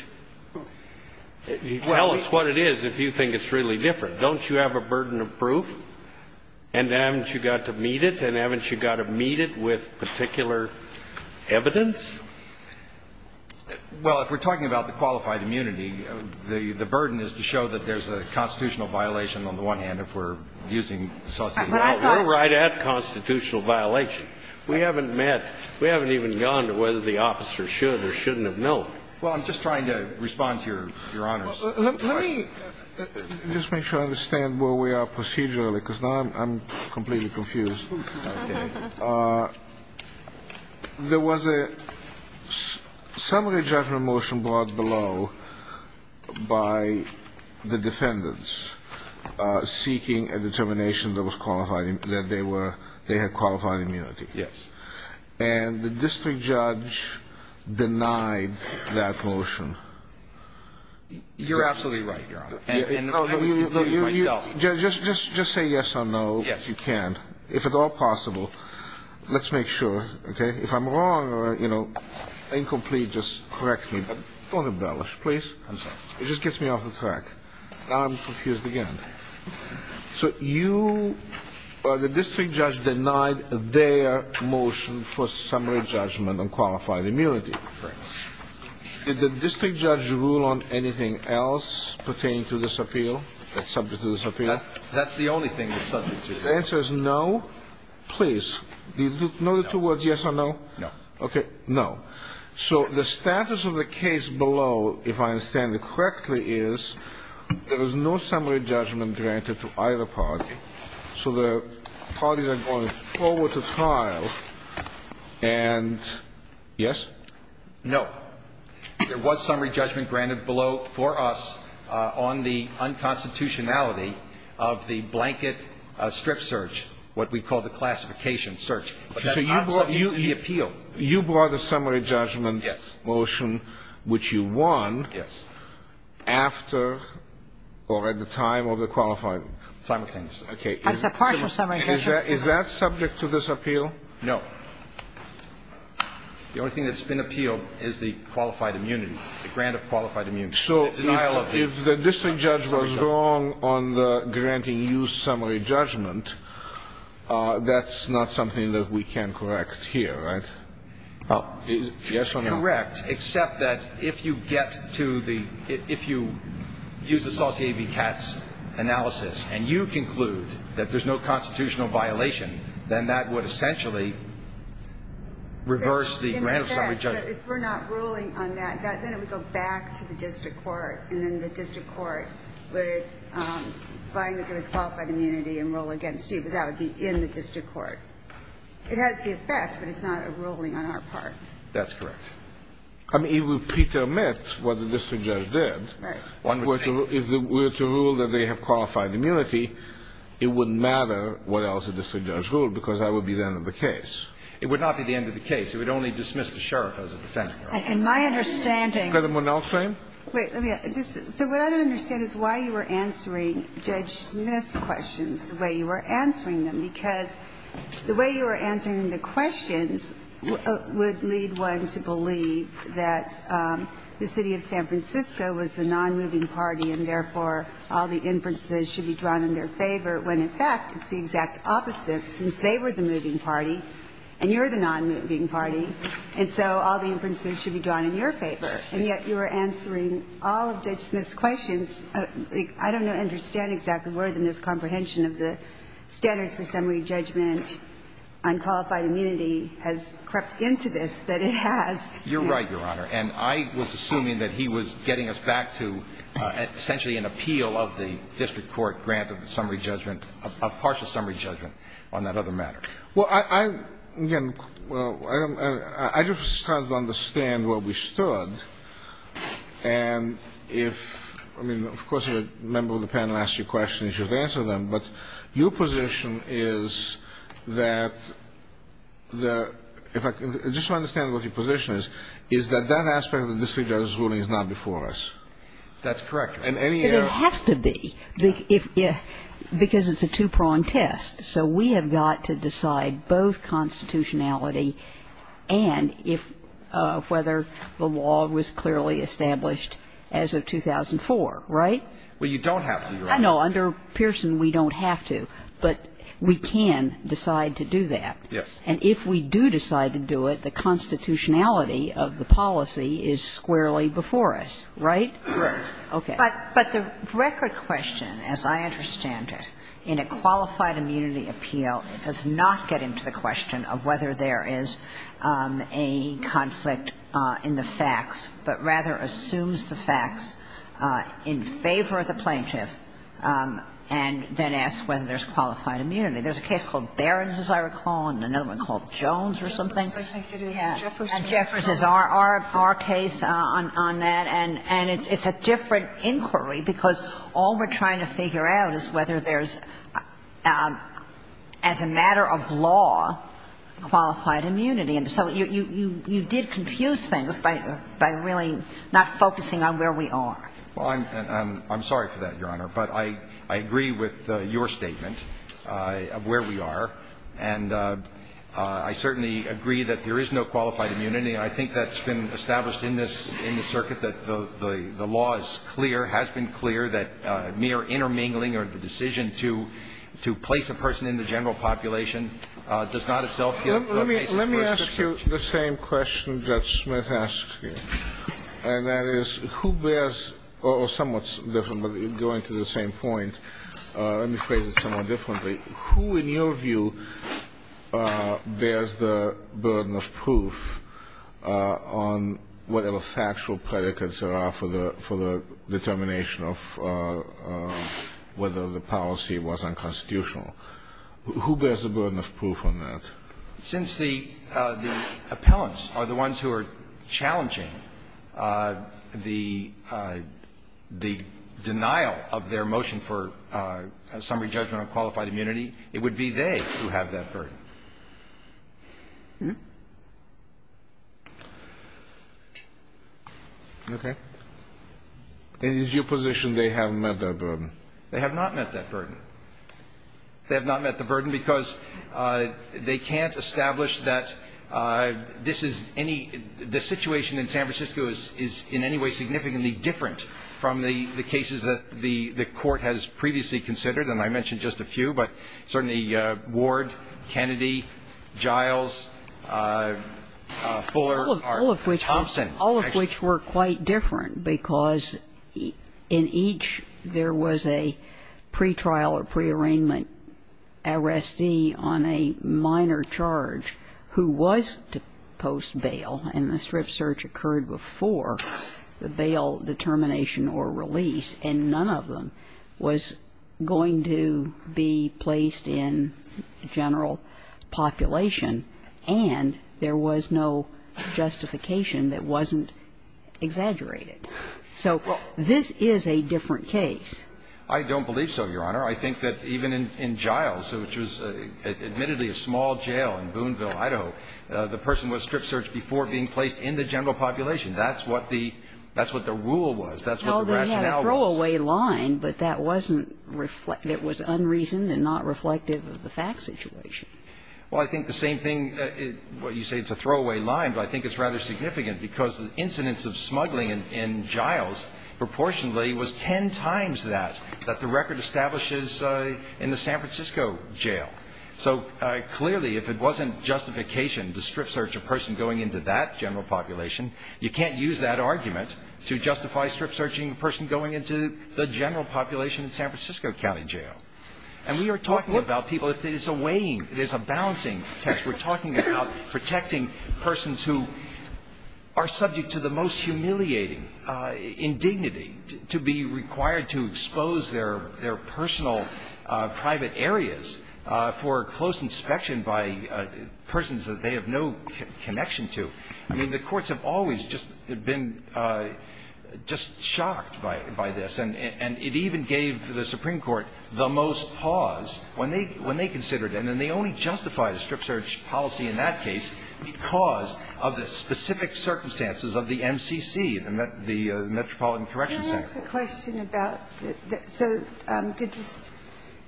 Tell us what it is if you think it's really different. Don't you have a burden of proof? And haven't you got to meet it? And haven't you got to meet it with particular evidence? Well, if we're talking about the qualified immunity, the burden is to show that there's a constitutional violation on the one hand, if we're using associated language. Well, we're right at constitutional violation. We haven't met – we haven't even gone to whether the officer should or shouldn't have known. Well, I'm just trying to respond to Your Honor's question. Let me just make sure I understand where we are procedurally, because now I'm completely confused. Okay. There was a summary judgment motion brought below by the defendants seeking a determination that they were – they had qualified immunity. Yes. And the district judge denied that motion. You're absolutely right, Your Honor. And I was confused myself. Just say yes or no, if you can. Yes. Well, let's make it all possible. Let's make sure. Okay? If I'm wrong or, you know, incomplete, just correct me. But don't embellish, please. I'm sorry. It just gets me off the track. Now I'm confused again. So you or the district judge denied their motion for summary judgment on qualified immunity. Correct. Did the district judge rule on anything else pertaining to this appeal that's subject to this appeal? That's the only thing that's subject to this appeal. The answer is no. Please. Do you know the two words, yes or no? No. Okay. No. So the status of the case below, if I understand it correctly, is there was no summary judgment granted to either party. So the parties are going forward to trial. And yes? No. There was summary judgment granted below for us on the unconstitutionality of the blanket strip search, what we call the classification search. But that's not subject to the appeal. You brought a summary judgment motion which you won after or at the time of the qualifying. Simultaneously. That's a partial summary judgment. Is that subject to this appeal? No. The only thing that's been appealed is the qualified immunity, the grant of qualified immunity. So if the district judge was wrong on the granting you summary judgment, that's not something that we can correct here, right? Yes or no? Correct, except that if you get to the ‑‑ if you use the Saucier v. Katz analysis and you conclude that there's no constitutional violation, then that would essentially reverse the grant of summary judgment. But if we're not ruling on that, then it would go back to the district court, and then the district court would find that there was qualified immunity and rule against you, but that would be in the district court. It has the effect, but it's not a ruling on our part. That's correct. I mean, it would pretermit what the district judge did. Right. If we were to rule that they have qualified immunity, it wouldn't matter what else the district judge ruled, because that would be the end of the case. It would not be the end of the case. It would only dismiss the sheriff as a defendant. In my understanding ‑‑ Could someone else say? Wait. So what I don't understand is why you were answering Judge Smith's questions the way you were answering them, because the way you were answering the questions would lead one to believe that the city of San Francisco was the nonmoving party and, therefore, all the inferences should be drawn in their favor, when, in fact, it's the exact opposite, since they were the moving party and you're the nonmoving party, and so all the inferences should be drawn in your favor, and yet you were answering all of Judge Smith's questions. I don't understand exactly where the miscomprehension of the standards for summary judgment on qualified immunity has crept into this, but it has. You're right, Your Honor. And I was assuming that he was getting us back to essentially an appeal of the district court grant of the summary judgment, a partial summary judgment on that other matter. Well, I ‑‑ again, I just tried to understand where we stood, and if ‑‑ I mean, of course, if a member of the panel asked you a question, you should answer them, but your position is that the ‑‑ just to understand what your position is, is that that aspect of the district judge's ruling is not before us. That's correct. And any ‑‑ But it has to be, because it's a two‑pronged test. So we have got to decide both constitutionality and if ‑‑ whether the law was clearly established as of 2004, right? Well, you don't have to, Your Honor. I know. Under Pearson, we don't have to, but we can decide to do that. Yes. And if we do decide to do it, the constitutionality of the policy is squarely before us, right? Right. Okay. But the record question, as I understand it, in a qualified immunity appeal, it does not get into the question of whether there is a conflict in the facts, but rather assumes the facts in favor of the plaintiff and then asks whether there's qualified immunity. There's a case called Barron's, as I recall, and another one called Jones or something. I think it is. And Jeffers is our case on that. And it's a different inquiry, because all we're trying to figure out is whether there's, as a matter of law, qualified immunity. And so you did confuse things by really not focusing on where we are. Well, I'm sorry for that, Your Honor. But I agree with your statement of where we are. And I certainly agree that there is no qualified immunity, and I think that's been established in this, in the circuit, that the law is clear, has been clear that mere intermingling or the decision to place a person in the general population does not itself give the basis for a question. Let me ask you the same question Judge Smith asked you, and that is who bears or somewhat different, but going to the same point, let me phrase it somewhat differently. Who, in your view, bears the burden of proof on whatever factual predicates there are for the determination of whether the policy was unconstitutional? Who bears the burden of proof on that? Since the appellants are the ones who are challenging the denial of their motion for summary judgment on qualified immunity, it would be they who have that burden. Okay. And is your position they have met that burden? They have not met that burden. They have not met the burden because they can't establish that this is any – the situation in San Francisco is in any way significantly different from the cases that the Court has previously considered? And I mentioned just a few, but certainly Ward, Kennedy, Giles, Fuller, Thompson. All of which were quite different because in each there was a pretrial or prearrangement arrestee on a minor charge who was to post bail, and the strip search occurred before the bail determination or release, and none of them was going to be placed in general population, and there was no justification that wasn't exaggerated. So this is a different case. I don't believe so, Your Honor. I think that even in Giles, which was admittedly a small jail in Boonville, Idaho, the person was strip searched before being placed in the general population. That's what the – that's what the rule was. That's what the rationale was. Well, they had a throwaway line, but that wasn't – that was unreasoned and not reflective of the fact situation. Well, I think the same thing. You say it's a throwaway line, but I think it's rather significant because the incidence of smuggling in Giles proportionally was ten times that, that the record establishes in the San Francisco jail. So clearly, if it wasn't justification to strip search a person going into that general population, you can't use that argument to justify strip searching a person going into the general population in San Francisco County Jail. And we are talking about people – it's a weighing – there's a balancing test. We're talking about protecting persons who are subject to the most humiliating indignity, to be required to expose their personal private areas for close inspection by persons that they have no connection to. I mean, the courts have always just been just shocked by this. And it even gave the Supreme Court the most pause when they considered it. And they only justified strip search policy in that case because of the specific circumstances of the MCC, the Metropolitan Correction Center. Can I ask a question about – so did the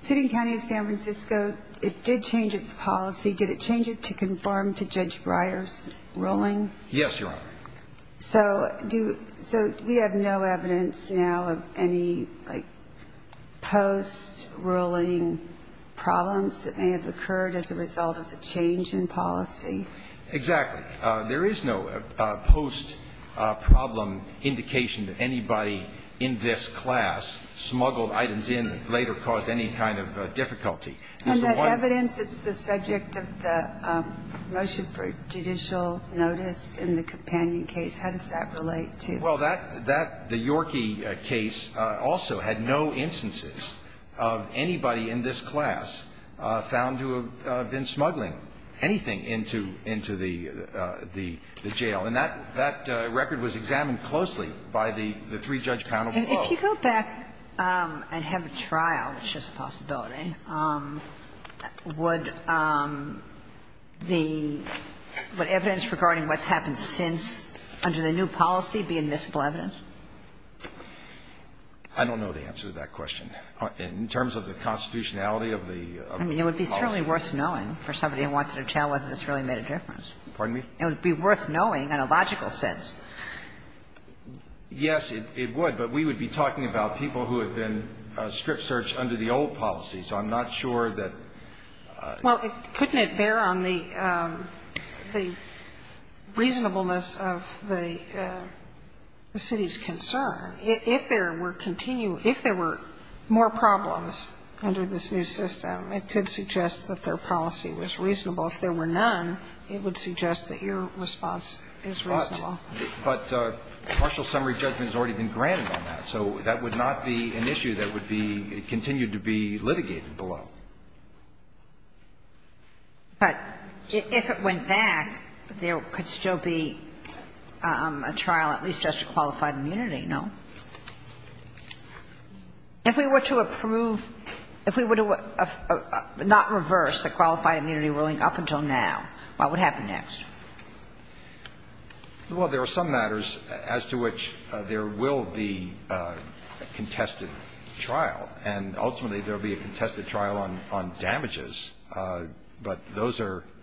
City and County of San Francisco, it did change its policy. Did it change it to conform to Judge Breyer's ruling? Yes, Your Honor. So do – so we have no evidence now of any, like, post-ruling problems that may have occurred as a result of the change in policy? Exactly. There is no post-problem indication that anybody in this class smuggled items in that later caused any kind of difficulty. And that evidence that's the subject of the motion for judicial notice in the Companion case, how does that relate to? Well, that – that – the Yorkie case also had no instances of anybody in this class found to have been smuggling anything into the jail. And that record was examined closely by the three-judge panel. If you go back and have a trial, which is a possibility, would the evidence regarding what's happened since under the new policy be admissible evidence? I don't know the answer to that question. In terms of the constitutionality of the policy. I mean, it would be certainly worth knowing for somebody who wanted to tell whether this really made a difference. Pardon me? It would be worth knowing in a logical sense. Yes, it would. But we would be talking about people who had been strip-searched under the old policy. So I'm not sure that – Well, couldn't it bear on the reasonableness of the city's concern? If there were continued – if there were more problems under this new system, it could suggest that their policy was reasonable. If there were none, it would suggest that your response is reasonable. But Marshall's summary judgment has already been granted on that. So that would not be an issue that would be – continue to be litigated below. But if it went back, there could still be a trial, at least just for qualified immunity, no? If we were to approve – if we were to not reverse the qualified immunity ruling up until now, what would happen next? Well, there are some matters as to which there will be a contested trial. And ultimately, there will be a contested trial on damages. But those are –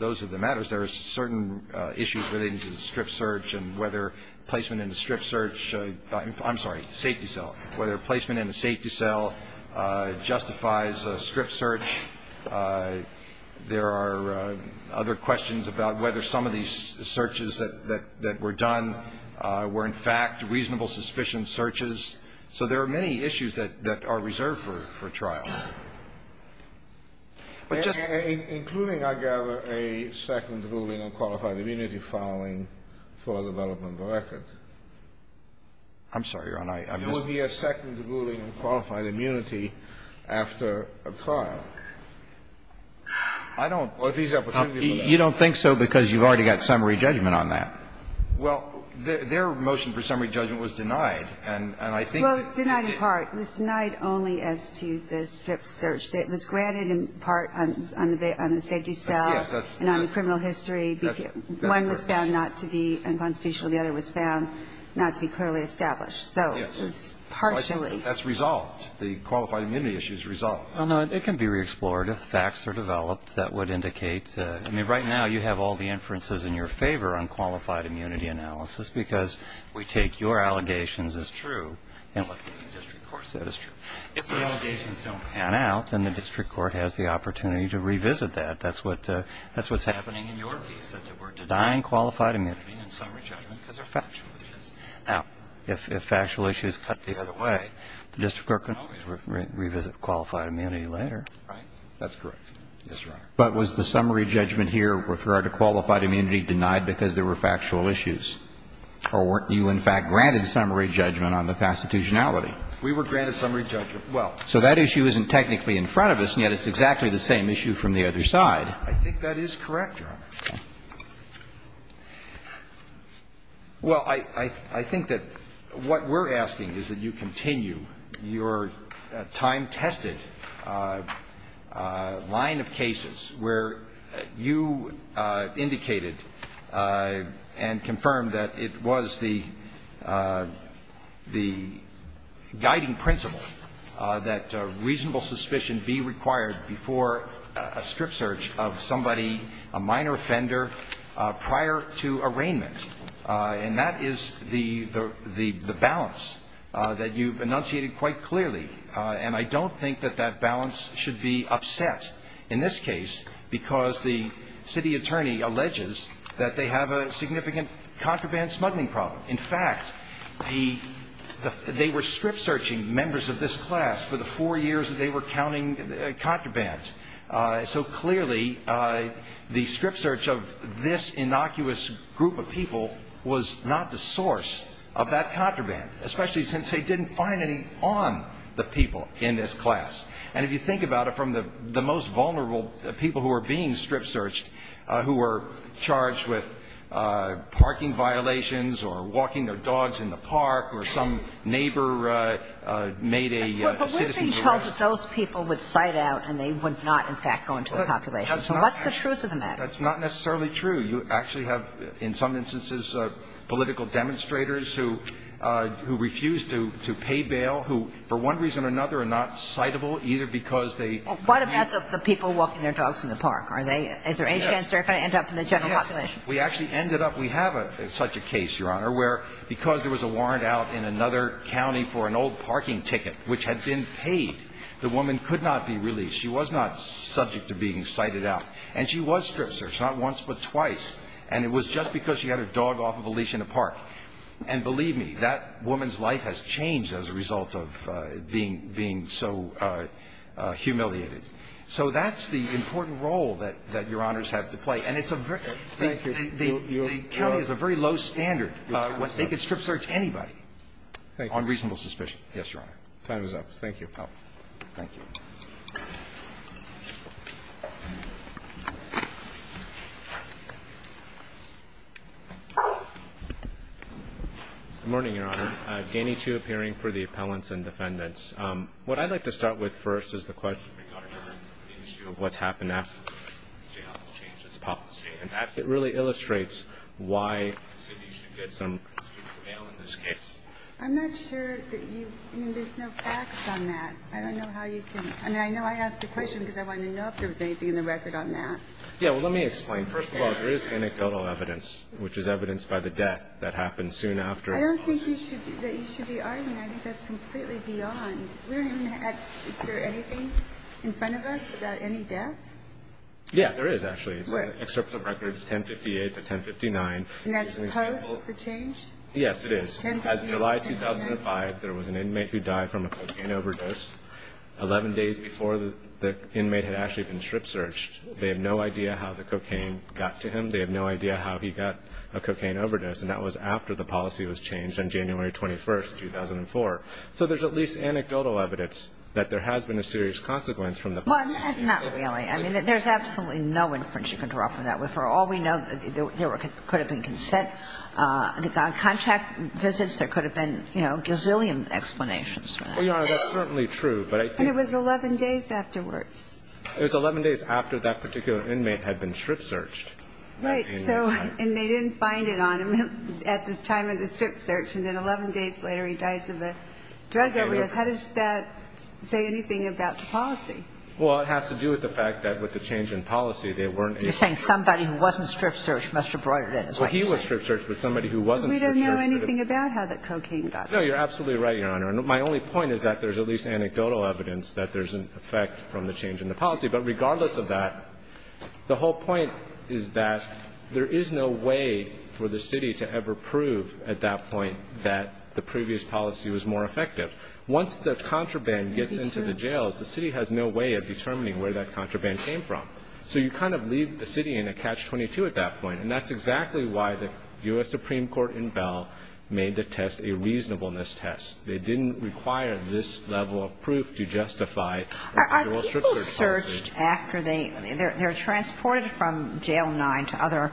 those are the matters. There are certain issues relating to the strip-search and whether placement in a strip-search – I'm sorry, safety cell – whether placement in a safety cell justifies a strip-search. There are other questions about whether some of these searches that were done were, in fact, reasonable suspicion searches. So there are many issues that are reserved for trial. But just – Including, I gather, a second ruling on qualified immunity following full development of a record. I'm sorry, Your Honor. There would be a second ruling on qualified immunity after a trial. I don't – or if there's an opportunity for that. You don't think so because you've already got summary judgment on that. Well, their motion for summary judgment was denied, and I think that it – Well, it was denied in part. It was denied only as to the strip-search. It was granted in part on the safety cell and on the criminal history. One was found not to be unconstitutional. The other was found not to be clearly established. So it was partially – That's resolved. The qualified immunity issue is resolved. Well, no, it can be re-explored. If facts are developed, that would indicate – I mean, right now you have all the inferences in your favor on qualified immunity analysis because we take your allegations as true and what the district court said is true. If the allegations don't pan out, then the district court has the opportunity to revisit that. That's what's happening in your case, that we're denying qualified immunity in summary judgment because they're factual issues. Now, if factual issues cut the other way, the district court can always revisit qualified immunity later. Right? That's correct. Yes, Your Honor. But was the summary judgment here with regard to qualified immunity denied because there were factual issues? Or weren't you, in fact, granted summary judgment on the constitutionality? We were granted summary judgment. Well – So that issue isn't technically in front of us, and yet it's exactly the same issue from the other side. I think that is correct, Your Honor. Okay. Well, I think that what we're asking is that you continue your time-tested line of cases where you indicated and confirmed that it was the guiding principle that reasonable suspicion be required before a strip search of somebody, a minor offender, prior to arraignment. And that is the balance that you've enunciated quite clearly. And I don't think that that balance should be upset in this case because the city attorney alleges that they have a significant contraband smuggling problem. In fact, they were strip searching members of this class for the four years that they were counting contraband. So clearly, the strip search of this innocuous group of people was not the source of that contraband, especially since they didn't find any on the people in this class. And if you think about it, from the most vulnerable people who were being strip searched who were charged with parking violations or walking their dogs in the park or some neighbor made a citizen's arrest. But we're being told that those people would cite out and they would not, in fact, go into the population. So what's the truth of the matter? That's not necessarily true. You actually have, in some instances, political demonstrators who refuse to pay bail who, for one reason or another, are not citable either because they need to. What about the people walking their dogs in the park? Are they – is there any chance they're going to end up in the general population? Yes. We actually ended up – we have such a case, Your Honor, where because there was a warrant out in another county for an old parking ticket which had been paid, the woman could not be released. She was not subject to being cited out. And she was strip searched, not once but twice. And it was just because she had her dog off of a leash in a park. And believe me, that woman's life has changed as a result of being so humiliated. So that's the important role that Your Honors have to play. And it's a very – the county has a very low standard. They could strip search anybody on reasonable suspicion. Yes, Your Honor. Time is up. Thank you. Thank you. Good morning, Your Honor. Danny Chu appearing for the appellants and defendants. What I'd like to start with first is the question regarding the issue of what's happened after the jail has changed its policy. And it really illustrates why you should get some student bail in this case. I'm not sure that you – I mean, there's no facts on that. I don't know how you can – I mean, I know I asked the question because I wanted to know if there was anything in the record on that. Yeah, well, let me explain. First of all, there is anecdotal evidence, which is evidence by the death that happened soon after. I don't think you should – that you should be arguing. I think that's completely beyond. We don't even have – is there anything in front of us about any death? Yeah, there is, actually. What? It's an excerpt from records 1058 to 1059. And that's post the change? Yes, it is. 1058 to 1059. There was an inmate who died from a cocaine overdose 11 days before the inmate had actually been strip searched. They have no idea how the cocaine got to him. They have no idea how he got a cocaine overdose. And that was after the policy was changed on January 21st, 2004. So there's at least anecdotal evidence that there has been a serious consequence from the policy. Well, not really. I mean, there's absolutely no inference you can draw from that. For all we know, there could have been consent. There could have been contact visits. There could have been, you know, gazillion explanations for that. Well, Your Honor, that's certainly true, but I think – And it was 11 days afterwards. It was 11 days after that particular inmate had been strip searched. Right. So – and they didn't find it on him at the time of the strip search. And then 11 days later, he dies of a drug overdose. How does that say anything about the policy? Well, it has to do with the fact that with the change in policy, they weren't able to – You're saying somebody who wasn't strip searched must have brought it in, is what you're saying. Well, he was strip searched, but somebody who wasn't strip searched – We don't know anything about how the cocaine got there. No, you're absolutely right, Your Honor. And my only point is that there's at least anecdotal evidence that there's an effect from the change in the policy. But regardless of that, the whole point is that there is no way for the city to ever prove at that point that the previous policy was more effective. Once the contraband gets into the jails, the city has no way of determining where that contraband came from. So you kind of leave the city in a catch-22 at that point. And that's exactly why the U.S. Supreme Court in Bell made the test a reasonableness test. They didn't require this level of proof to justify the whole strip search policy. Are people searched after they – they're transported from Jail 9 to other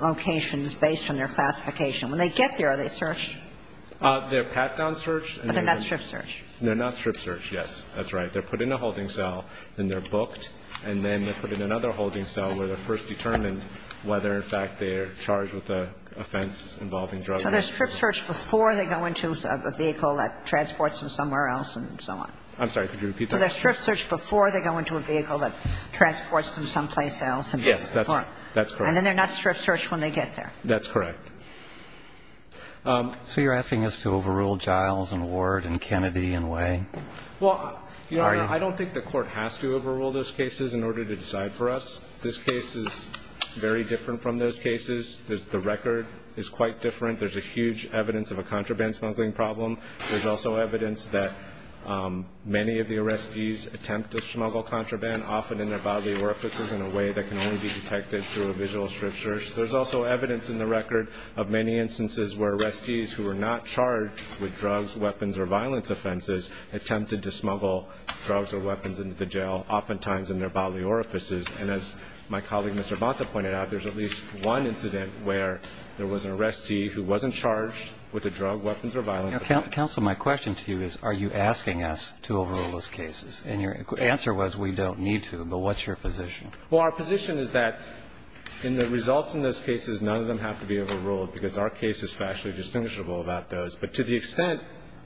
locations based on their classification. When they get there, are they searched? They're pat-down searched. But they're not strip searched. They're not strip searched, yes. That's right. They're put in a holding cell, then they're booked, and then they're put in another holding cell where they're first determined whether, in fact, they're charged with an offense involving drug use. So they're strip searched before they go into a vehicle that transports them somewhere else and so on. I'm sorry. Could you repeat that? So they're strip searched before they go into a vehicle that transports them someplace else. Yes, that's correct. And then they're not strip searched when they get there. That's correct. So you're asking us to overrule Giles and Ward and Kennedy and Way? Well, Your Honor, I don't think the court has to overrule those cases in order to decide for us. This case is very different from those cases. The record is quite different. There's a huge evidence of a contraband smuggling problem. There's also evidence that many of the arrestees attempt to smuggle contraband, often in their bodily orifices in a way that can only be detected through a visual strip search. There's also evidence in the record of many instances where arrestees who are not charged with drugs, weapons, or violence offenses attempted to smuggle drugs or weapons into the jail, oftentimes in their bodily orifices. And as my colleague, Mr. Bonta, pointed out, there's at least one incident where there was an arrestee who wasn't charged with a drug, weapons, or violence offense. Counsel, my question to you is are you asking us to overrule those cases? And your answer was we don't need to, but what's your position? Well, our position is that in the results in those cases, none of them have to be overruled because our case is factually distinguishable about those. But to the extent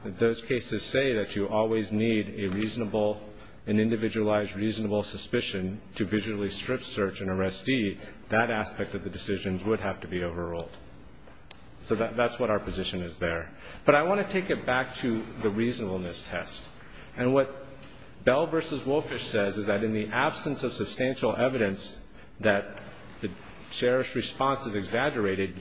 that those cases say that you always need a reasonable, an individualized reasonable suspicion to visually strip search an arrestee, that aspect of the decisions would have to be overruled. So that's what our position is there. But I want to take it back to the reasonableness test. And what Bell v. Wolfish says is that in the absence of substantial evidence that the sheriff's response is exaggerated,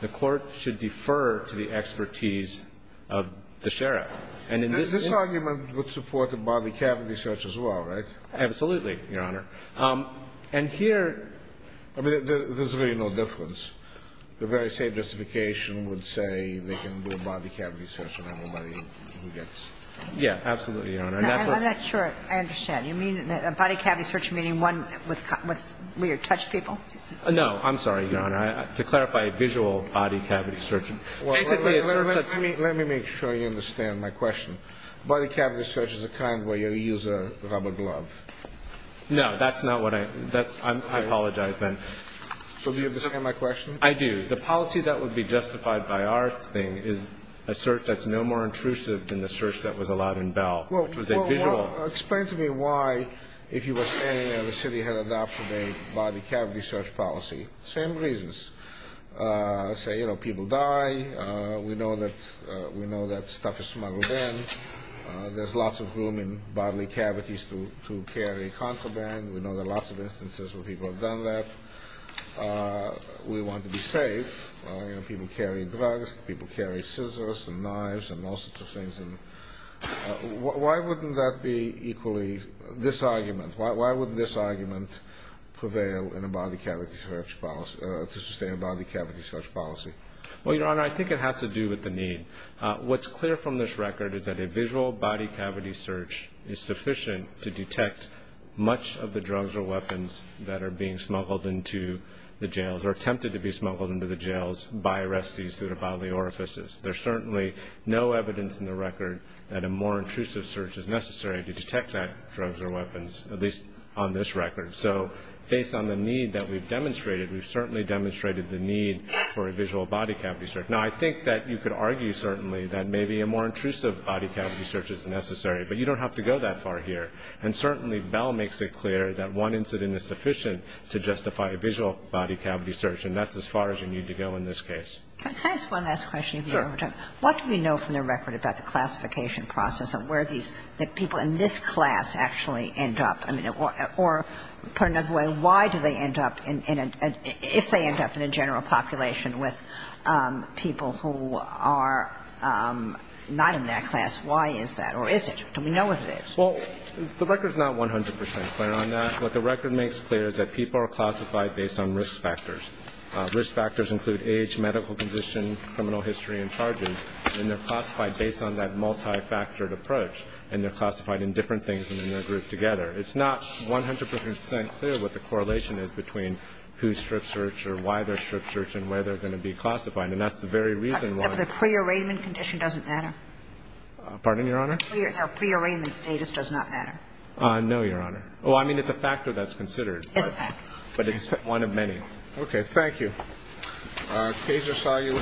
the Court should defer to the expertise of the sheriff. And in this case — This argument would support a body cavity search as well, right? Absolutely, Your Honor. And here — I mean, there's really no difference. The very same justification would say they can do a body cavity search on everybody who gets — Yeah, absolutely, Your Honor. And that's what — I'm not sure I understand. You mean a body cavity search meaning one with — where you touch people? I'm sorry, Your Honor. To clarify, a visual body cavity search — Let me make sure you understand my question. Body cavity search is the kind where you use a rubber glove. No, that's not what I — I apologize, then. So do you understand my question? I do. The policy that would be justified by our thing is a search that's no more intrusive than the search that was allowed in Bell, which was a visual — Well, explain to me why, if you were saying that the city had adopted a body cavity search policy. Same reasons. Say, you know, people die. We know that stuff is smuggled in. There's lots of room in bodily cavities to carry contraband. We know there are lots of instances where people have done that. We want to be safe. You know, people carry drugs. People carry scissors and knives and all sorts of things. Why wouldn't that be equally — this argument. Why would this argument prevail in a body cavity search policy — to sustain a body cavity search policy? Well, Your Honor, I think it has to do with the need. What's clear from this record is that a visual body cavity search is sufficient to detect much of the drugs or weapons that are being smuggled into the jails or attempted to be smuggled into the jails by arrestees who have bodily orifices. There's certainly no evidence in the record that a more intrusive search is necessary to detect that drugs or weapons, at least on this record. So based on the need that we've demonstrated, we've certainly demonstrated the need for a visual body cavity search. Now, I think that you could argue certainly that maybe a more intrusive body cavity search is necessary, but you don't have to go that far here. And certainly Bell makes it clear that one incident is sufficient to justify a visual body cavity search, and that's as far as you need to go in this case. Can I ask one last question? Sure. What do we know from the record about the classification process and where these people in this class actually end up? I mean, or put another way, why do they end up in a — if they end up in a general population with people who are not in that class, why is that? Or is it? Do we know what it is? Well, the record is not 100 percent clear on that. What the record makes clear is that people are classified based on risk factors. Risk factors include age, medical condition, criminal history, and charges. And they're classified based on that multifactored approach, and they're classified in different things and then they're grouped together. It's not 100 percent clear what the correlation is between who's strip searched or why they're strip searched and where they're going to be classified. And that's the very reason why — The prearrangement condition doesn't matter? Pardon, Your Honor? The prearrangement status does not matter? No, Your Honor. Well, I mean, it's a factor that's considered. It's a factor. But it's one of many. Okay. Thank you. Our case is filed. You have 10 minutes. We are adjourned.